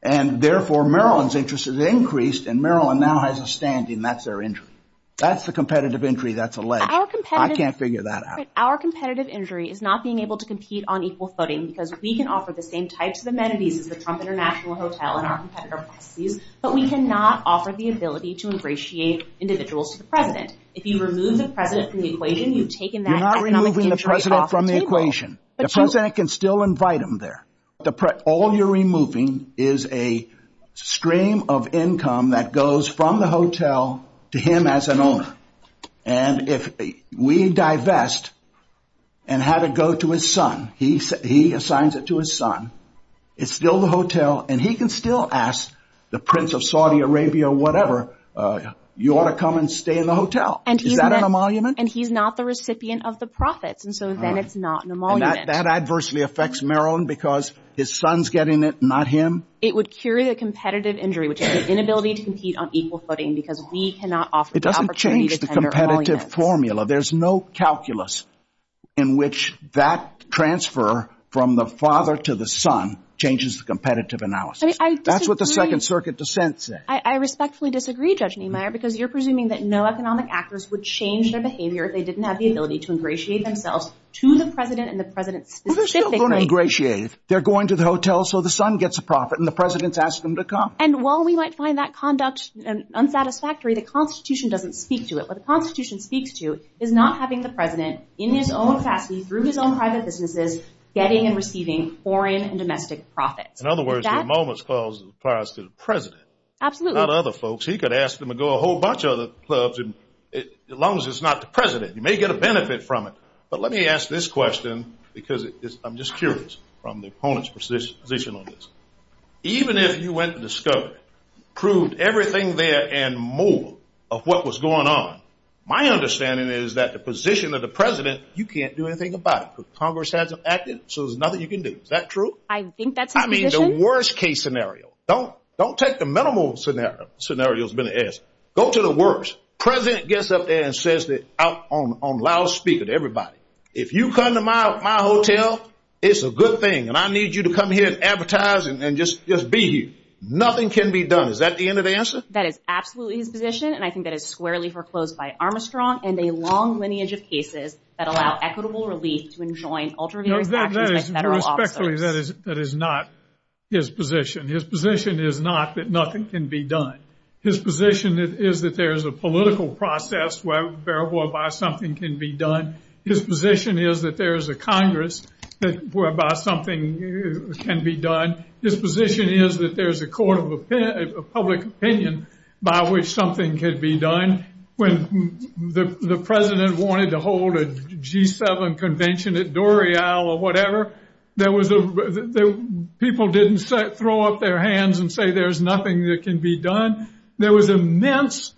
and, therefore, Maryland's interest is increased, and Maryland now has a standing. That's their interest. That's a competitive injury. That's a leg. I can't figure that out. Our competitive injury is not being able to compete on equal footing, because we can offer the same types of amenities as the Trump International Hotel and our competitor, but we cannot offer the ability to ingratiate individuals to the president. If you remove the president from the equation, you've taken that... You're not removing the president from the equation. The president can still invite him there. All you're removing is a stream of income that goes from the hotel to him as an owner, and if we divest and have it go to his son, he assigns it to his son, it's still the hotel, and he can still ask the prince of Saudi Arabia or whatever, you ought to come and stay in the hotel. Is that an emolument? And he's not the recipient of the profits, and so then it's not an emolument. That adversely affects Maryland because his son's getting it, not him? It would curate a competitive injury, which is the inability to compete on equal footing, because we cannot offer the opportunity to send an emolument. It doesn't change the competitive formula. There's no calculus in which that transfer from the father to the son changes the competitive analysis. That's what the Second Circuit dissent said. I respectfully disagree, Judge Niemeyer, because you're presuming that no economic actors would change their behavior if they didn't have the ability to ingratiate themselves to the president and the president's position. They're still going to ingratiate. They're going to the hotel so the son gets a profit and the president asks them to come. And while we might find that conduct unsatisfactory, the Constitution doesn't speak to it. What the Constitution speaks to is not having the president in his own family, through his own private businesses, getting and receiving foreign and domestic profits. In other words, the emolument applies to the president. Absolutely. He could ask them to go to a whole bunch of other clubs, as long as it's not the president. You may get a benefit from it. But let me ask this question, because I'm just curious from the opponent's position on this. Even if you went and discovered, proved everything there and more of what was going on, my understanding is that the position of the president, you can't do anything about it, because Congress hasn't acted, so there's nothing you can do. Is that true? I think that's the position. I mean, the worst-case scenario. Don't take the minimal scenario that's been asked. Go to the worst. The president gets up there and says it out loud, speak it to everybody. If you come to my hotel, it's a good thing, and I need you to come here and advertise and just be here. Nothing can be done. Is that the end of the answer? That is absolutely his position, and I think that it's squarely foreclosed by Armstrong and a long lineage of cases that allow equitable relief to enjoin ultramarriage action by federal officers. That is not his position. His position is not that nothing can be done. His position is that there is a political process whereby something can be done. His position is that there is a Congress whereby something can be done. His position is that there is a court of public opinion by which something can be done. When the president wanted to hold a G7 convention at Dorial or whatever, people didn't throw up their hands and say there's nothing that can be done. There was immense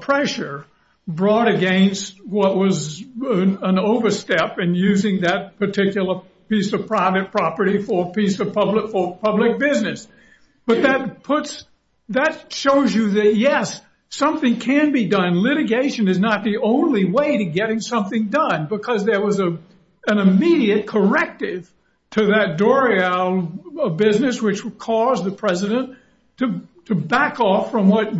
pressure brought against what was an overstep in using that particular piece of private property for a piece of public business. But that shows you that, yes, something can be done. And litigation is not the only way to getting something done, because there was an immediate corrective to that Dorial business, which caused the president to back off from what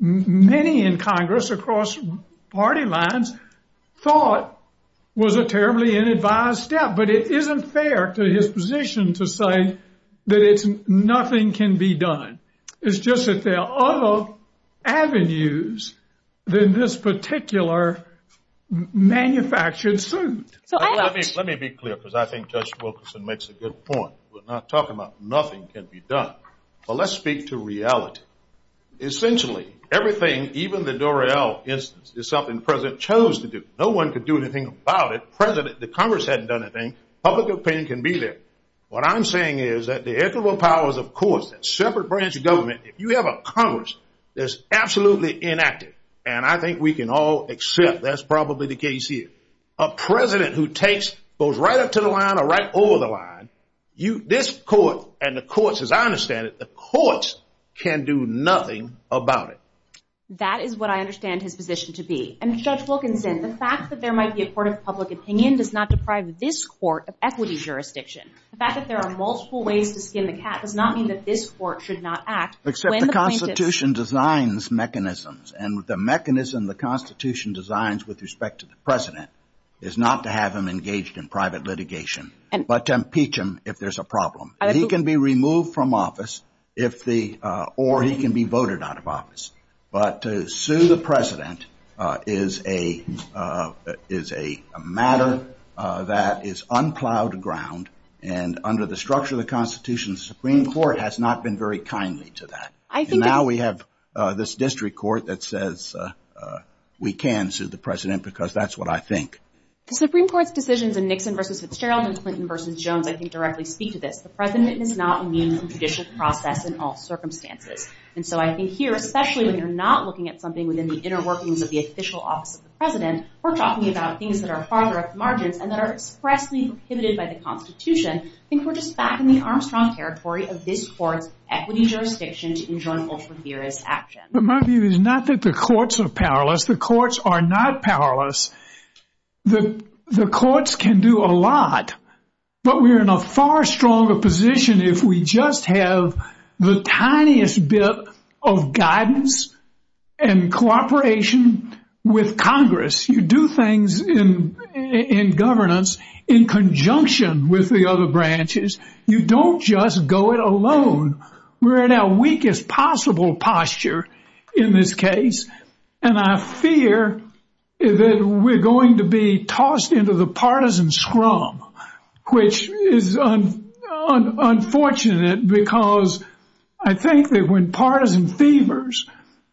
many in Congress across party lines thought was a terribly inadvertent step. But it isn't fair to his position to say that nothing can be done. It's just that there are other avenues than this particular manufactured suit. Let me be clear, because I think Judge Wilkerson makes a good point. We're not talking about nothing can be done. But let's speak to reality. Essentially, everything, even the Dorial instance, is something the president chose to do. No one could do anything about it. The Congress hadn't done anything. Public opinion can be there. What I'm saying is that the equitable powers of courts, that separate branch of government, if you have a Congress that's absolutely inactive, and I think we can all accept that's probably the case here, a president who goes right up to the line or right over the line, this court and the courts, as I understand it, the courts can do nothing about it. That is what I understand his position to be. And Judge Wilkerson said the fact that there might be a court of public opinion does not deprive this court of equity jurisdiction. The fact that there are multiple ways to skin the cat does not mean that this court should not act. Except the Constitution designs mechanisms, and the mechanism the Constitution designs with respect to the president is not to have him engaged in private litigation, but to impeach him if there's a problem. He can be removed from office, or he can be voted out of office. But to sue the president is a matter that is unclouded ground, and under the structure of the Constitution, the Supreme Court has not been very kindly to that. Now we have this district court that says we can sue the president because that's what I think. The Supreme Court's decisions in Nixon v. Fitzgerald and Clinton v. Jones I think directly speak to this. The president is not immune from judicious process in all circumstances. And so I think here, especially when you're not looking at something within the inner workings of the official office of the president, we're talking about things that are farther up the margin and that are expressly prohibited by the Constitution. I think we're just back in the Armstrong territory of this court's equity jurisdiction to enjoin ultraviolent action. But my view is not that the courts are powerless. The courts are not powerless. The courts can do a lot. But we're in a far stronger position if we just have the tiniest bit of guidance and cooperation with Congress. You do things in governance in conjunction with the other branches. You don't just go it alone. We're in our weakest possible posture in this case, and I fear that we're going to be tossed into the partisan scrum, which is unfortunate because I think that when partisan fevers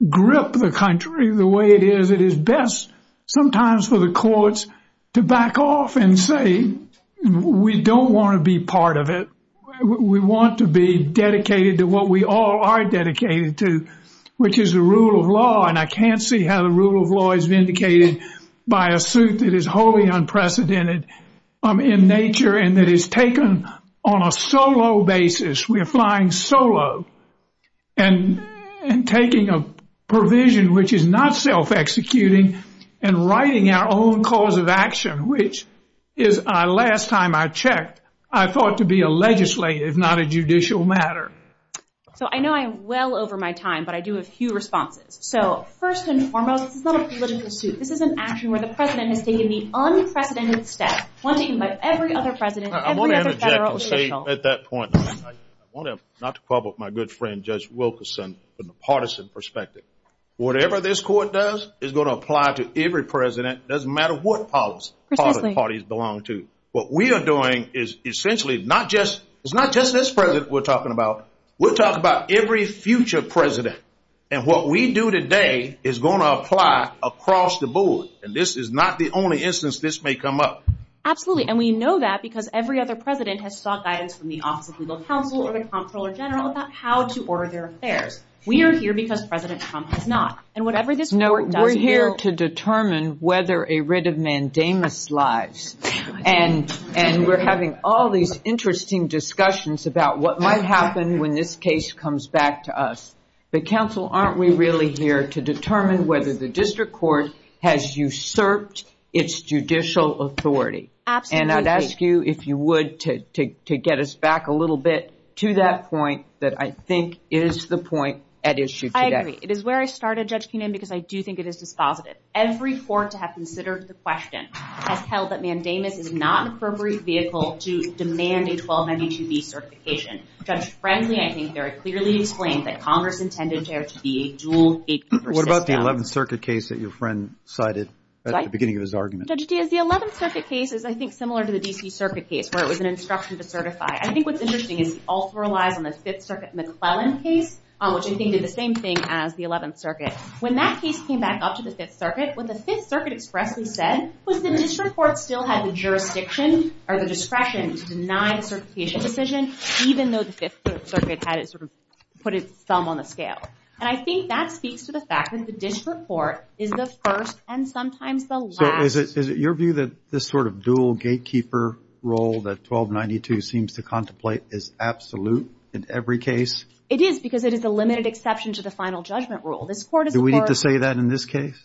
grip the country the way it is, it is best sometimes for the courts to back off and say, we don't want to be part of it. We want to be dedicated to what we all are dedicated to, which is the rule of law, and I can't see how the rule of law is vindicated by a suit that is wholly unprecedented in nature and that is taken on a solo basis. We're flying solo and taking a provision which is not self-executing and writing our own cause of action, which is, last time I checked, I thought to be a legislative, not a judicial matter. So I know I'm well over my time, but I do have a few responses. So first and foremost, this is not a political suit. This is an action where the president has taken the unprecedented step, punching at every other president, every other federal official. I want to interject and say at that point, I want to have not to quarrel with my good friend Judge Wilkerson in the partisan perspective. Whatever this court does is going to apply to every president. It doesn't matter what parties they belong to. What we are doing is essentially not just this president we're talking about. We're talking about every future president, and what we do today is going to apply across the board, and this is not the only instance this may come up. Absolutely, and we know that because every other president has sought guidance from the Office of Legal Counsel or the Comptroller General about how to order their affairs. We are here because President Trump has not. No, we're here to determine whether a writ of mandamus lies, and we're having all these interesting discussions about what might happen when this case comes back to us. But, counsel, aren't we really here to determine whether the district court has usurped its judicial authority? And I'd ask you, if you would, to get us back a little bit to that point that I think is the point at issue today. It is where I started, Judge Keenan, because I do think it is dispositive. Every court to have considered the question has held that mandamus is not an appropriate vehicle to demand a 1292B certification. Judge Frensley, I think, very clearly explained that Congress intended there to be a dual state superstition. What about the 11th Circuit case that your friend cited at the beginning of his argument? Judge Keenan, the 11th Circuit case is, I think, similar to the D.P. Circuit case, where it was an instruction to certify. I think what's interesting is it also relies on the Fifth Circuit and the Cleveland case, which, I think, did the same thing as the 11th Circuit. When that case came back up to the Fifth Circuit, what the Fifth Circuit expressly said was the district court still has the jurisdiction or the discretion to deny the certification decision, even though the Fifth Circuit had it sort of put its thumb on the scale. And I think that speaks to the fact that the district court is the first and sometimes the last. So is it your view that this sort of dual gatekeeper role that 1292 seems to contemplate is absolute in every case? It is, because it is a limited exception to the final judgment rule. Do we need to say that in this case?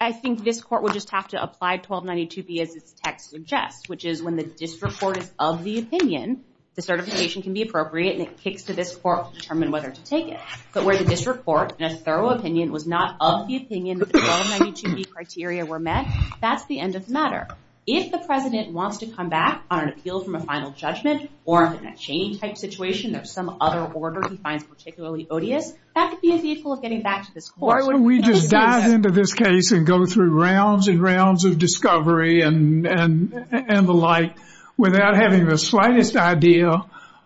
I think this court would just have to apply 1292B as this text suggests, which is when the district court is of the opinion, the certification can be appropriate and it kicks to this court to determine whether to take it. But where the district court, in a thorough opinion, was not of the opinion that the 1292B criteria were met, that's the end of the matter. If the president wants to come back on an appeal from a final judgment or in a change-type situation of some other order he finds particularly odious, that could be a vehicle of getting back to this court. Or we just dive into this case and go through rounds and rounds of discovery and the like without having the slightest idea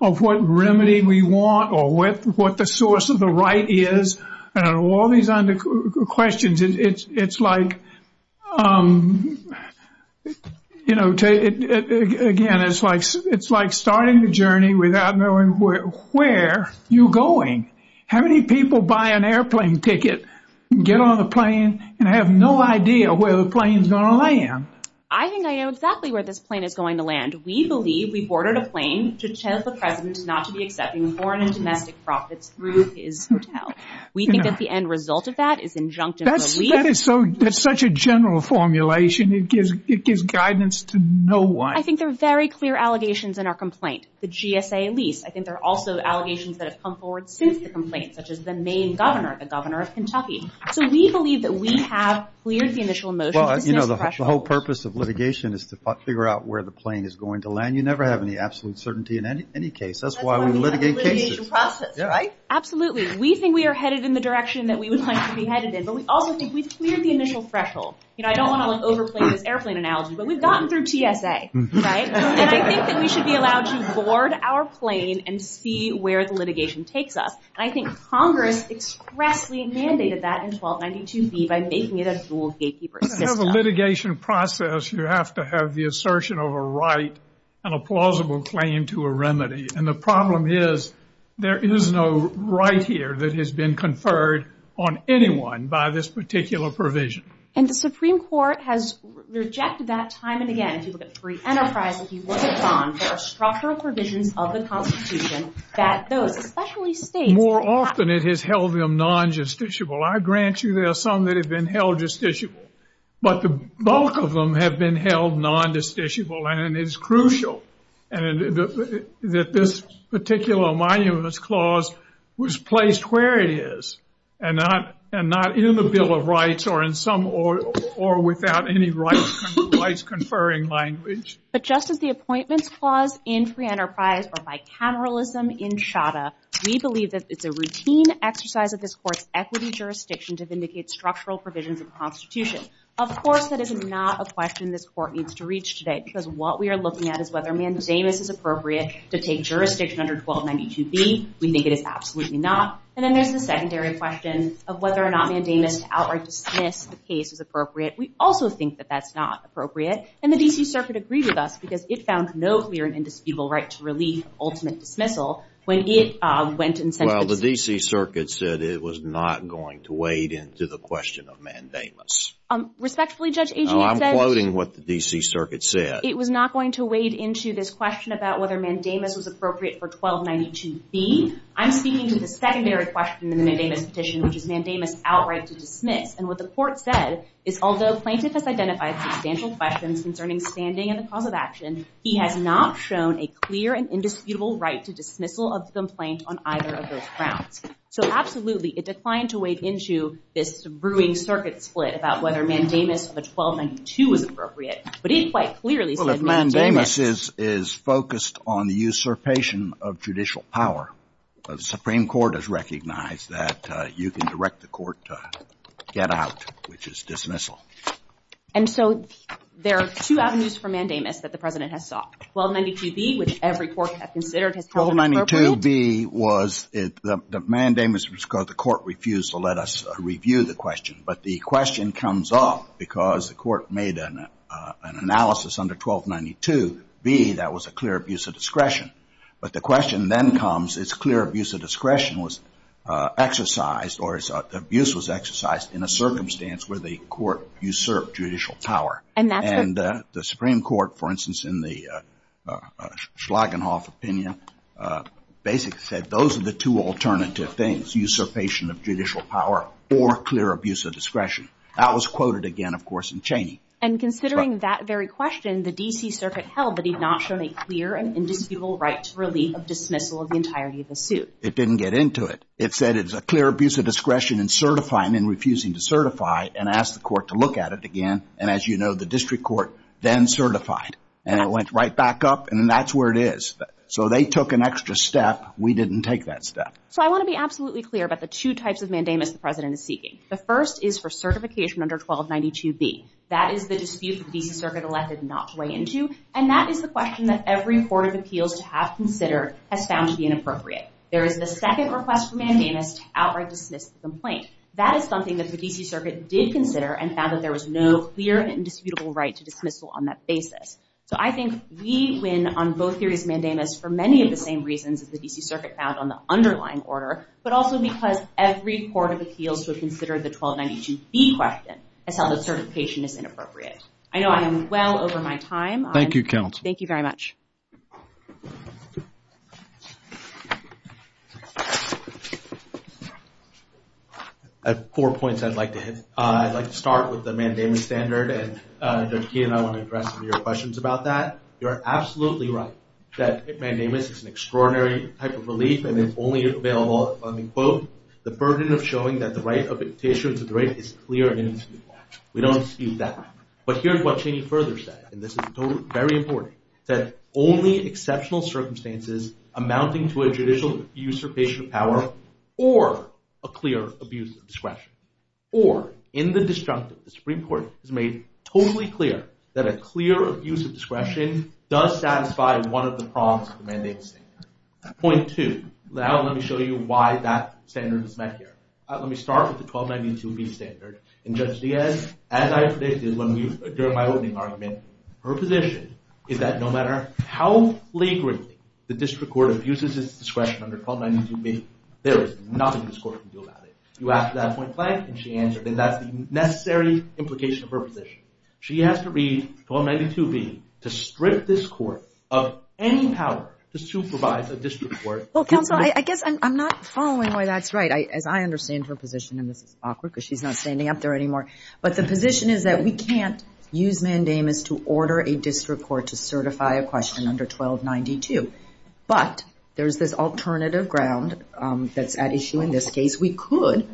of what remedy we want or what the source of the right is. All these other questions, it's like starting the journey without knowing where you're going. How many people buy an airplane ticket, get on the plane, and have no idea where the plane's going to land? I think I know exactly where this plane is going to land. We believe we've ordered a plane to tell the president not to be accepting foreign and domestic profits We think that the end result of that is injunctive relief. That's such a general formulation. It gives guidance to no one. I think there are very clear allegations in our complaint, the GSA lease. I think there are also allegations that have come forward since the complaint, such as the main governor, the governor of Kentucky. So we believe that we have cleared the initial motion. The whole purpose of litigation is to figure out where the plane is going to land. You never have any absolute certainty in any case. That's why we litigate cases. Absolutely. We think we are headed in the direction that we would like to be headed in, but we also think we've cleared the initial threshold. I don't want to overplay this airplane analogy, but we've gotten through TSA. I think we should be allowed to board our plane and see where the litigation takes us. I think Congress expressly mandated that in 1292B by making it a full gatekeeper. To have a litigation process, you have to have the assertion of a right and a plausible claim to a remedy. And the problem is, there is no right here that has been conferred on anyone by this particular provision. And the Supreme Court has rejected that time and again. If you look at free enterprise, if you look at bonds, there are structural provisions of the Constitution that those professionally- More often it has held them non-justiciable. I grant you there are some that have been held justiciable, but the bulk of them have been held non-justiciable, and it's crucial. That this particular monumentous clause was placed where it is, and not in the Bill of Rights or without any rights-conferring language. But just as the appointment clause in free enterprise or bicameralism in Shada, we believe that it's a routine exercise of this Court's equity jurisdiction to vindicate structural provisions of the Constitution. Of course, that is not a question this Court needs to reach today, because what we are looking at is whether mandamus is appropriate to take jurisdiction under 1292B. We think it is absolutely not. And then there's the secondary question of whether or not mandamus to outright dismiss the case is appropriate. We also think that that's not appropriate, and the D.C. Circuit agreed with us because it found no clear and indisputable right to relieve ultimate dismissal when it went and- Well, the D.C. Circuit said it was not going to wade into the question of mandamus. Respectfully, Judge Agincourt said- Well, I'm quoting what the D.C. Circuit said. It was not going to wade into this question about whether mandamus was appropriate for 1292B. I'm speaking to the secondary question in the mandamus petition, which is mandamus outright to dismiss. And what the Court said is, although Plankett has identified substantial questions concerning standing and the cause of action, he has not shown a clear and indisputable right to dismissal of some plaint on either of those grounds. So, absolutely, it declined to wade into this brewing circuit split about whether mandamus of 1292 is appropriate. But he's quite clearly- But mandamus is focused on the usurpation of judicial power. The Supreme Court has recognized that you can direct the Court to get out, which is dismissal. And so there are two avenues for mandamus that the President has sought. 1292B, which every Court has considered has- 1292B was-the mandamus was because the Court refused to let us review the question. But the question comes up because the Court made an analysis under 1292B that was a clear abuse of discretion. But the question then comes, is clear abuse of discretion was exercised or abuse was exercised in a circumstance where the Court usurped judicial power. And the Supreme Court, for instance, in the Schlagenhoff opinion, basically said those are the two alternative things, usurpation of judicial power or clear abuse of discretion. That was quoted again, of course, in Cheney. And considering that very question, the D.C. Circuit held that he's not shown a clear and indisputable right to release or dismissal of the entirety of the suit. It didn't get into it. It said it's a clear abuse of discretion in certifying and refusing to certify and asked the Court to look at it again. And as you know, the District Court then certified. And it went right back up, and that's where it is. So they took an extra step. We didn't take that step. So I want to be absolutely clear about the two types of mandamus the President is seeking. The first is for certification under 1292B. That is the dispute the D.C. Circuit elected not to weigh into. And that is the question that every Court of Appeals has considered has found to be inappropriate. There is a second request for mandamus to outright dismiss the complaint. That is something that the D.C. Circuit did consider and found that there was no clear and indisputable right to dismissal on that basis. So I think we win on both theories of mandamus for many of the same reasons that the D.C. Circuit had on the underlying order, but also because every Court of Appeals has considered the 1292B question and felt that certification is inappropriate. I know I'm well over my time. Thank you, Counsel. Thank you very much. I have four points I'd like to hit. I'd like to start with the mandamus standard, and Dr. Keenan, I want to address some of your questions about that. You're absolutely right that mandamus is an extraordinary type of relief, and it's only available on the quote, the burden of showing that the right of a petitioner to the right is clear and indisputable. We don't dispute that. But here's what Janie further said, and this is very important, that only exceptional circumstances amounting to a judicial usurpation of power or a clear abuse of discretion. Or, in the distrust of the Supreme Court, it is made totally clear that a clear abuse of discretion does satisfy one of the problems of the mandamus standard. Point two. Now let me show you why that standard was met here. Let me start with the 1292B standard, and Judge Diaz, as I said during my opening argument, her position is that no matter how flagrantly the district court abuses its discretion under 1292B, there is nothing this court can do about it. You ask that point five, and she answered, and that's the necessary implication of her position. She has to read 1292B to strip this court of any power to supervise a district court. Well, counsel, I guess I'm not following why that's right. As I understand her position, and this is awkward because she's not standing up there anymore, but the position is that we can't use mandamus to order a district court to certify a question under 1292. But there's this alternative ground that's at issue in this case. We could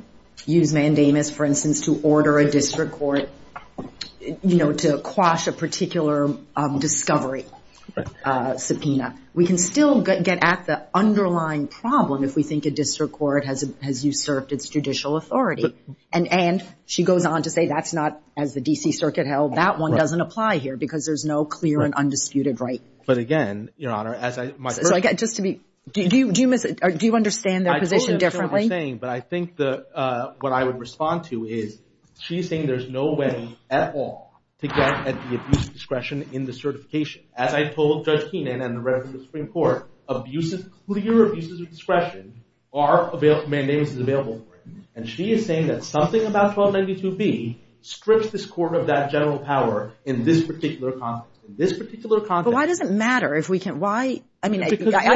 use mandamus, for instance, to order a district court, you know, to quash a particular discovery subpoena. We can still get at the underlying problem if we think a district court has usurped its judicial authority. And she goes on to say that's not, as the D.C. Circuit held, that one doesn't apply here because there's no clear and undisputed right. But again, Your Honor, as I... Just to be... Do you understand the position differently? I totally understand what you're saying, but I think what I would respond to is she's saying there's no way at all to get at the abuse of discretion in the certification. As I told Judge Keenan and the rest of the Supreme Court, abuses of discretion are available, mandamus is available, and she is saying that something about 1292B strips this court of that general power in this particular context. But why does it matter if we can... Why... I mean, I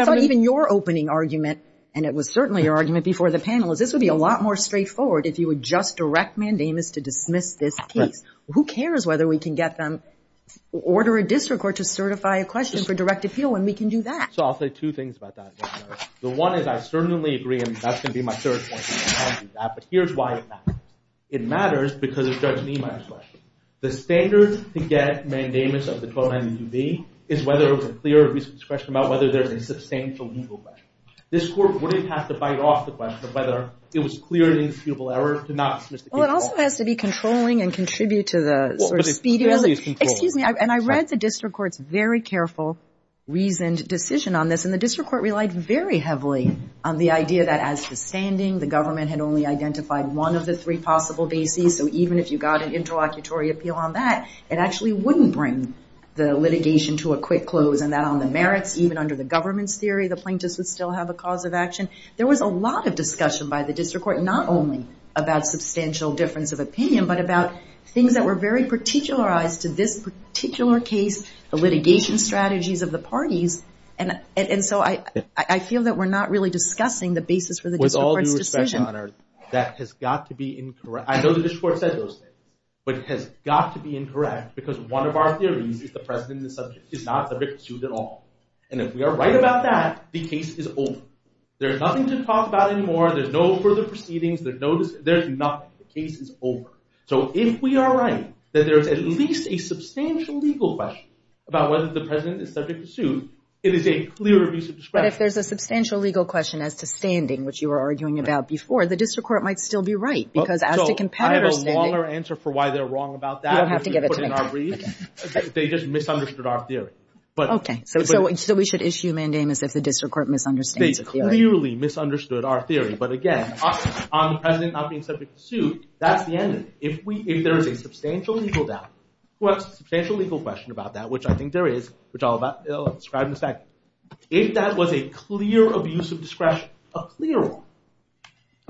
thought even your opening argument, and it was certainly your argument before the panel, is this would be a lot more straightforward if you would just direct mandamus to dismiss this case. Who cares whether we can get them to order a district court to certify a question for direct appeal, and we can do that. So I'll say two things about that, Your Honor. The one is I certainly agree, and that's going to be my third point, but here's why it matters. It matters because of Judge Niemeyer's question. The standard to get mandamus of the 1292B is whether there's a clear abuse of discretion about whether there's a substantial legal question. This court wouldn't have to bite off the question of whether it was a clear and indisputable error to not... Well, it also has to be controlling and contribute to the sort of speedy... Well, but it's fairly controlled. Excuse me, and I read the district court's very careful, reasoned decision on this, and the district court relied very heavily on the idea that as to standing, the government had only identified one of the three possible bases, so even if you got an interlocutory appeal on that, it actually wouldn't bring the litigation to a quick close, and that on the merits, even under the government's theory, the plaintiffs would still have a cause of action. There was a lot of discussion by the district court, not only about substantial difference of opinion, but about things that were very particularized to this particular case, the litigation strategies of the parties, and so I feel that we're not really discussing the basis for the district court's decision. With all due respect, Your Honor, that has got to be incorrect. I know the district court said those things, but it has got to be incorrect, because one of our theories is that the president and the subject is not subject to suit at all, and if we are right about that, the case is over. There's nothing to talk about anymore. There's no further proceedings. There's nothing. The case is over. So if we are right that there is at least a substantial legal question about whether the president is subject to suit, it is a clear abuse of discretion. But if there's a substantial legal question as to standing, which you were arguing about before, the district court might still be right. So I have a longer answer for why they're wrong about that. You don't have to give it to me. They just misunderstood our theory. Okay, so we should issue mandamus if the district court misunderstood the theory. They clearly misunderstood our theory, but again, on the president not being subject to suit, that's the end of it. If there is a substantial legal doubt, or a substantial legal question about that, which I think there is, which I'll describe in a second, if that was a clear abuse of discretion, a clear one,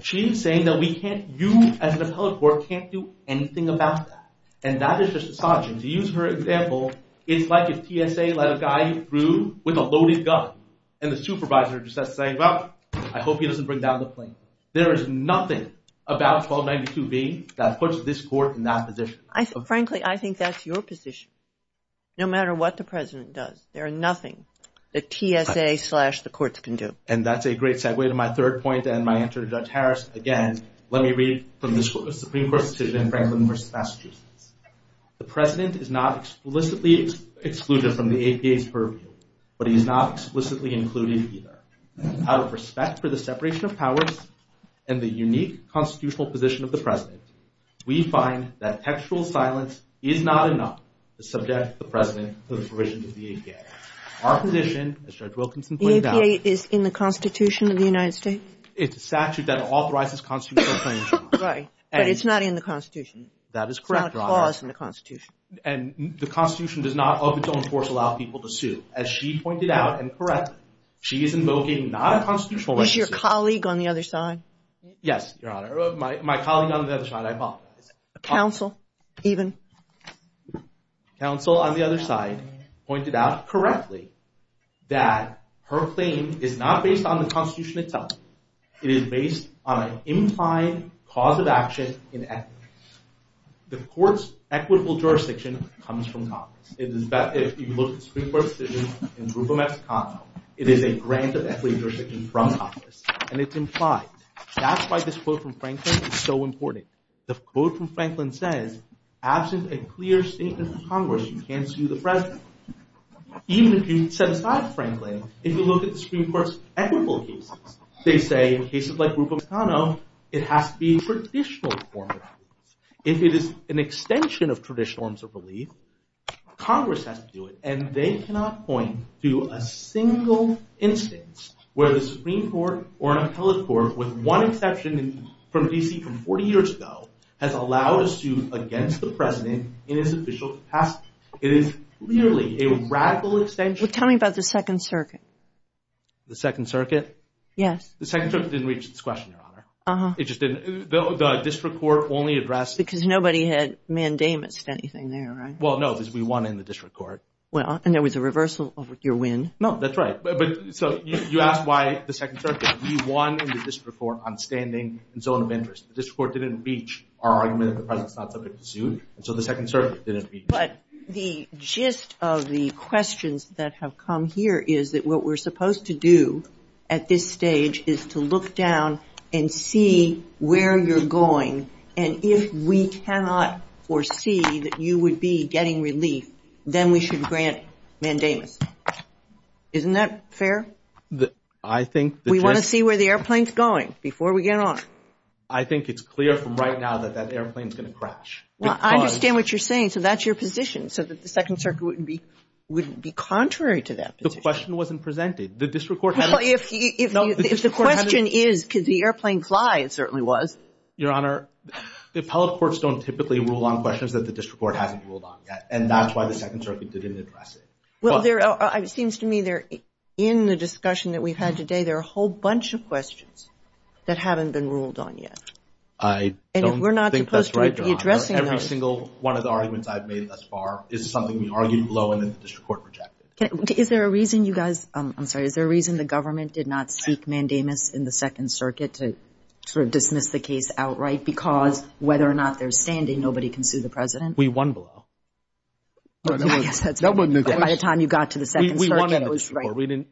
she is saying that you as the public court can't do anything about that. And that is a misogyny. To use her example, it's like if TSA let a guy through with a loaded gun, and the supervisor just says, well, I hope he doesn't bring down the plane. There is nothing about 1292B that puts this court in that position. Frankly, I think that's your position. No matter what the president does, there is nothing that TSA slash the courts can do. And that's a great segue to my third point, and my answer to Judge Harris. Again, let me read from the Supreme Court decision of Franklin v. Massachusetts. The president is not explicitly excluded from the APA's purview, but he is not explicitly included either. Out of respect for the separation of powers and the unique constitutional position of the president, we find that textual silence is not enough to subject the president to the provisions of the APA. Our position, as Judge Wilkinson pointed out, The APA is in the Constitution of the United States? It's a statute that authorizes constitutional claims. Right, but it's not in the Constitution. That is correct, Your Honor. It's not a clause in the Constitution. And the Constitution does not, of its own force, allow people to sue. As she pointed out, and correctly, she is invoking not a constitutional... Was your colleague on the other side? Yes, Your Honor. My colleague on the other side, I apologize. Counsel, even? Counsel, on the other side, pointed out, correctly, that her claim is not based on the Constitution itself. It is based on an implied cause of action in equity. The court's equitable jurisdiction comes from Congress. In fact, if you look at Supreme Court decisions in the group of Mexico, it is a grant of equity jurisdiction from Congress. And it's implied. That's why this quote from Franklin is so important. The quote from Franklin says, absent a clear statement from Congress, you can't sue the President. Even if you set aside Franklin, if you look at the Supreme Court's equitable cases, they say, in cases like Rubio-Cano, it has to be a traditional form of relief. If it is an extension of traditional forms of relief, Congress has to do it. And they cannot point to a single instance where the Supreme Court or an appellate court, with one exception from D.C. from 40 years ago, has allowed a suit against the President in an official capacity. It is clearly a radical extension... Well, tell me about the Second Circuit. The Second Circuit? The Second Circuit didn't reach its question, Your Honor. It just didn't. The district court only addressed... Because nobody had mandated anything there, right? Well, no, because we won in the district court. Well, and there was a reversal of your win. No, that's right. But, so, you asked why the Second Circuit. We won in the district court on standing and zone of interest. The district court didn't reach our argument that the President is not subject to suit. So the Second Circuit didn't reach that. But the gist of the questions that have come here is that what we're supposed to do at this stage is to look down and see where you're going. And if we cannot foresee that you would be getting relief, then we should grant it, mandate it. Isn't that fair? I think... We want to see where the airplane's going before we get on. I think it's clear from right now that that airplane's going to crash. I understand what you're saying. So that's your position, so that the Second Circuit wouldn't be contrary to that position. The question wasn't presented. The district court hadn't... Well, if the question is, because the airplane flies, it certainly was. Your Honor, the appellate courts don't typically rule on questions that the district court hasn't ruled on yet, and that's why the Second Circuit didn't address it. Well, it seems to me that in the discussion that we've had today, there are a whole bunch of questions that haven't been ruled on yet. I don't think that's right, Your Honor. Every single one of the arguments I've made thus far is something we've argued below and the district court rejected. Is there a reason you guys... I'm sorry, is there a reason the government did not speak mandamus in the Second Circuit to sort of dismiss the case outright because whether or not they're standing, nobody can sue the president? We won below. Nobody knew that. By the time you got to the Second Circuit, it was right. You didn't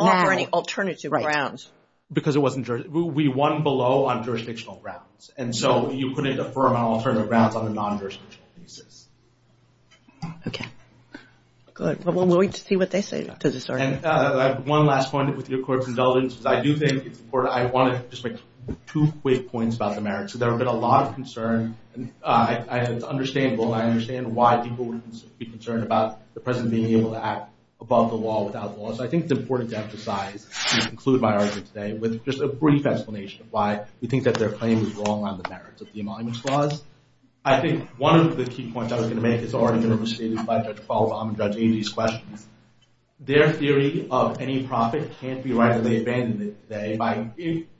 offer any alternative grounds. Because it wasn't... We won below on jurisdictional grounds, and so you couldn't affirm an alternative grounds on a non-jurisdictional basis. Okay. Good. Well, we'll wait to see what they say. And one last one with your court's indulgence. I do think I want to just make two quick points about the merits. There have been a lot of concern, and I understand why people would be concerned about the president being able to act above the law, without laws. I think it's important to emphasize, to conclude my argument today, with just a brief explanation of why we think that their claim is wrong on the merits of the Emoluments Clause. I think one of the key points I was going to make is the argument received by Judge Paul Romm and Judge Beebe's question. Their theory of any profit can't be right, and they abandoned it today by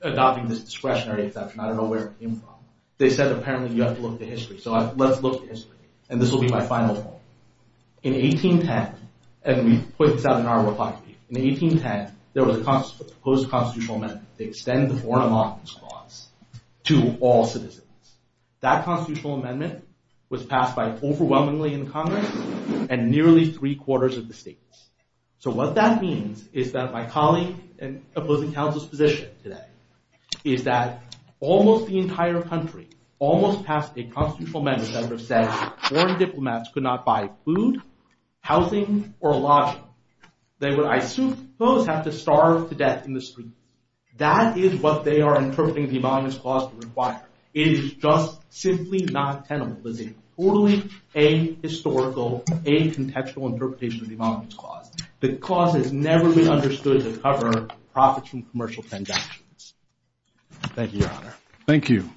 adopting this discretionary assumption. I don't know where it came from. They said, apparently, you have to look to history. So let's look to history. And this will be my final point. In 1810, and we put this out in our refining, in 1810, there was a proposed constitutional amendment to extend the Foreign Emoluments Clause to all citizens. That constitutional amendment was passed by overwhelmingly in Congress and nearly three-quarters of the states. So what that means is that my colleague in opposing counsel's position today is that almost the entire country almost passed a constitutional amendment where the senator said foreign diplomats could not buy food, housing, or lodging. They would, I assume, both have to starve to death in the street. That is what they are interpreting the Emoluments Clause to require. It is just simply not tenable. It is a totally ahistorical, ahintextual interpretation of the Emoluments Clause. The clause has never been understood to cover profits from commercial transactions. Thank you, Your Honor. Thank you.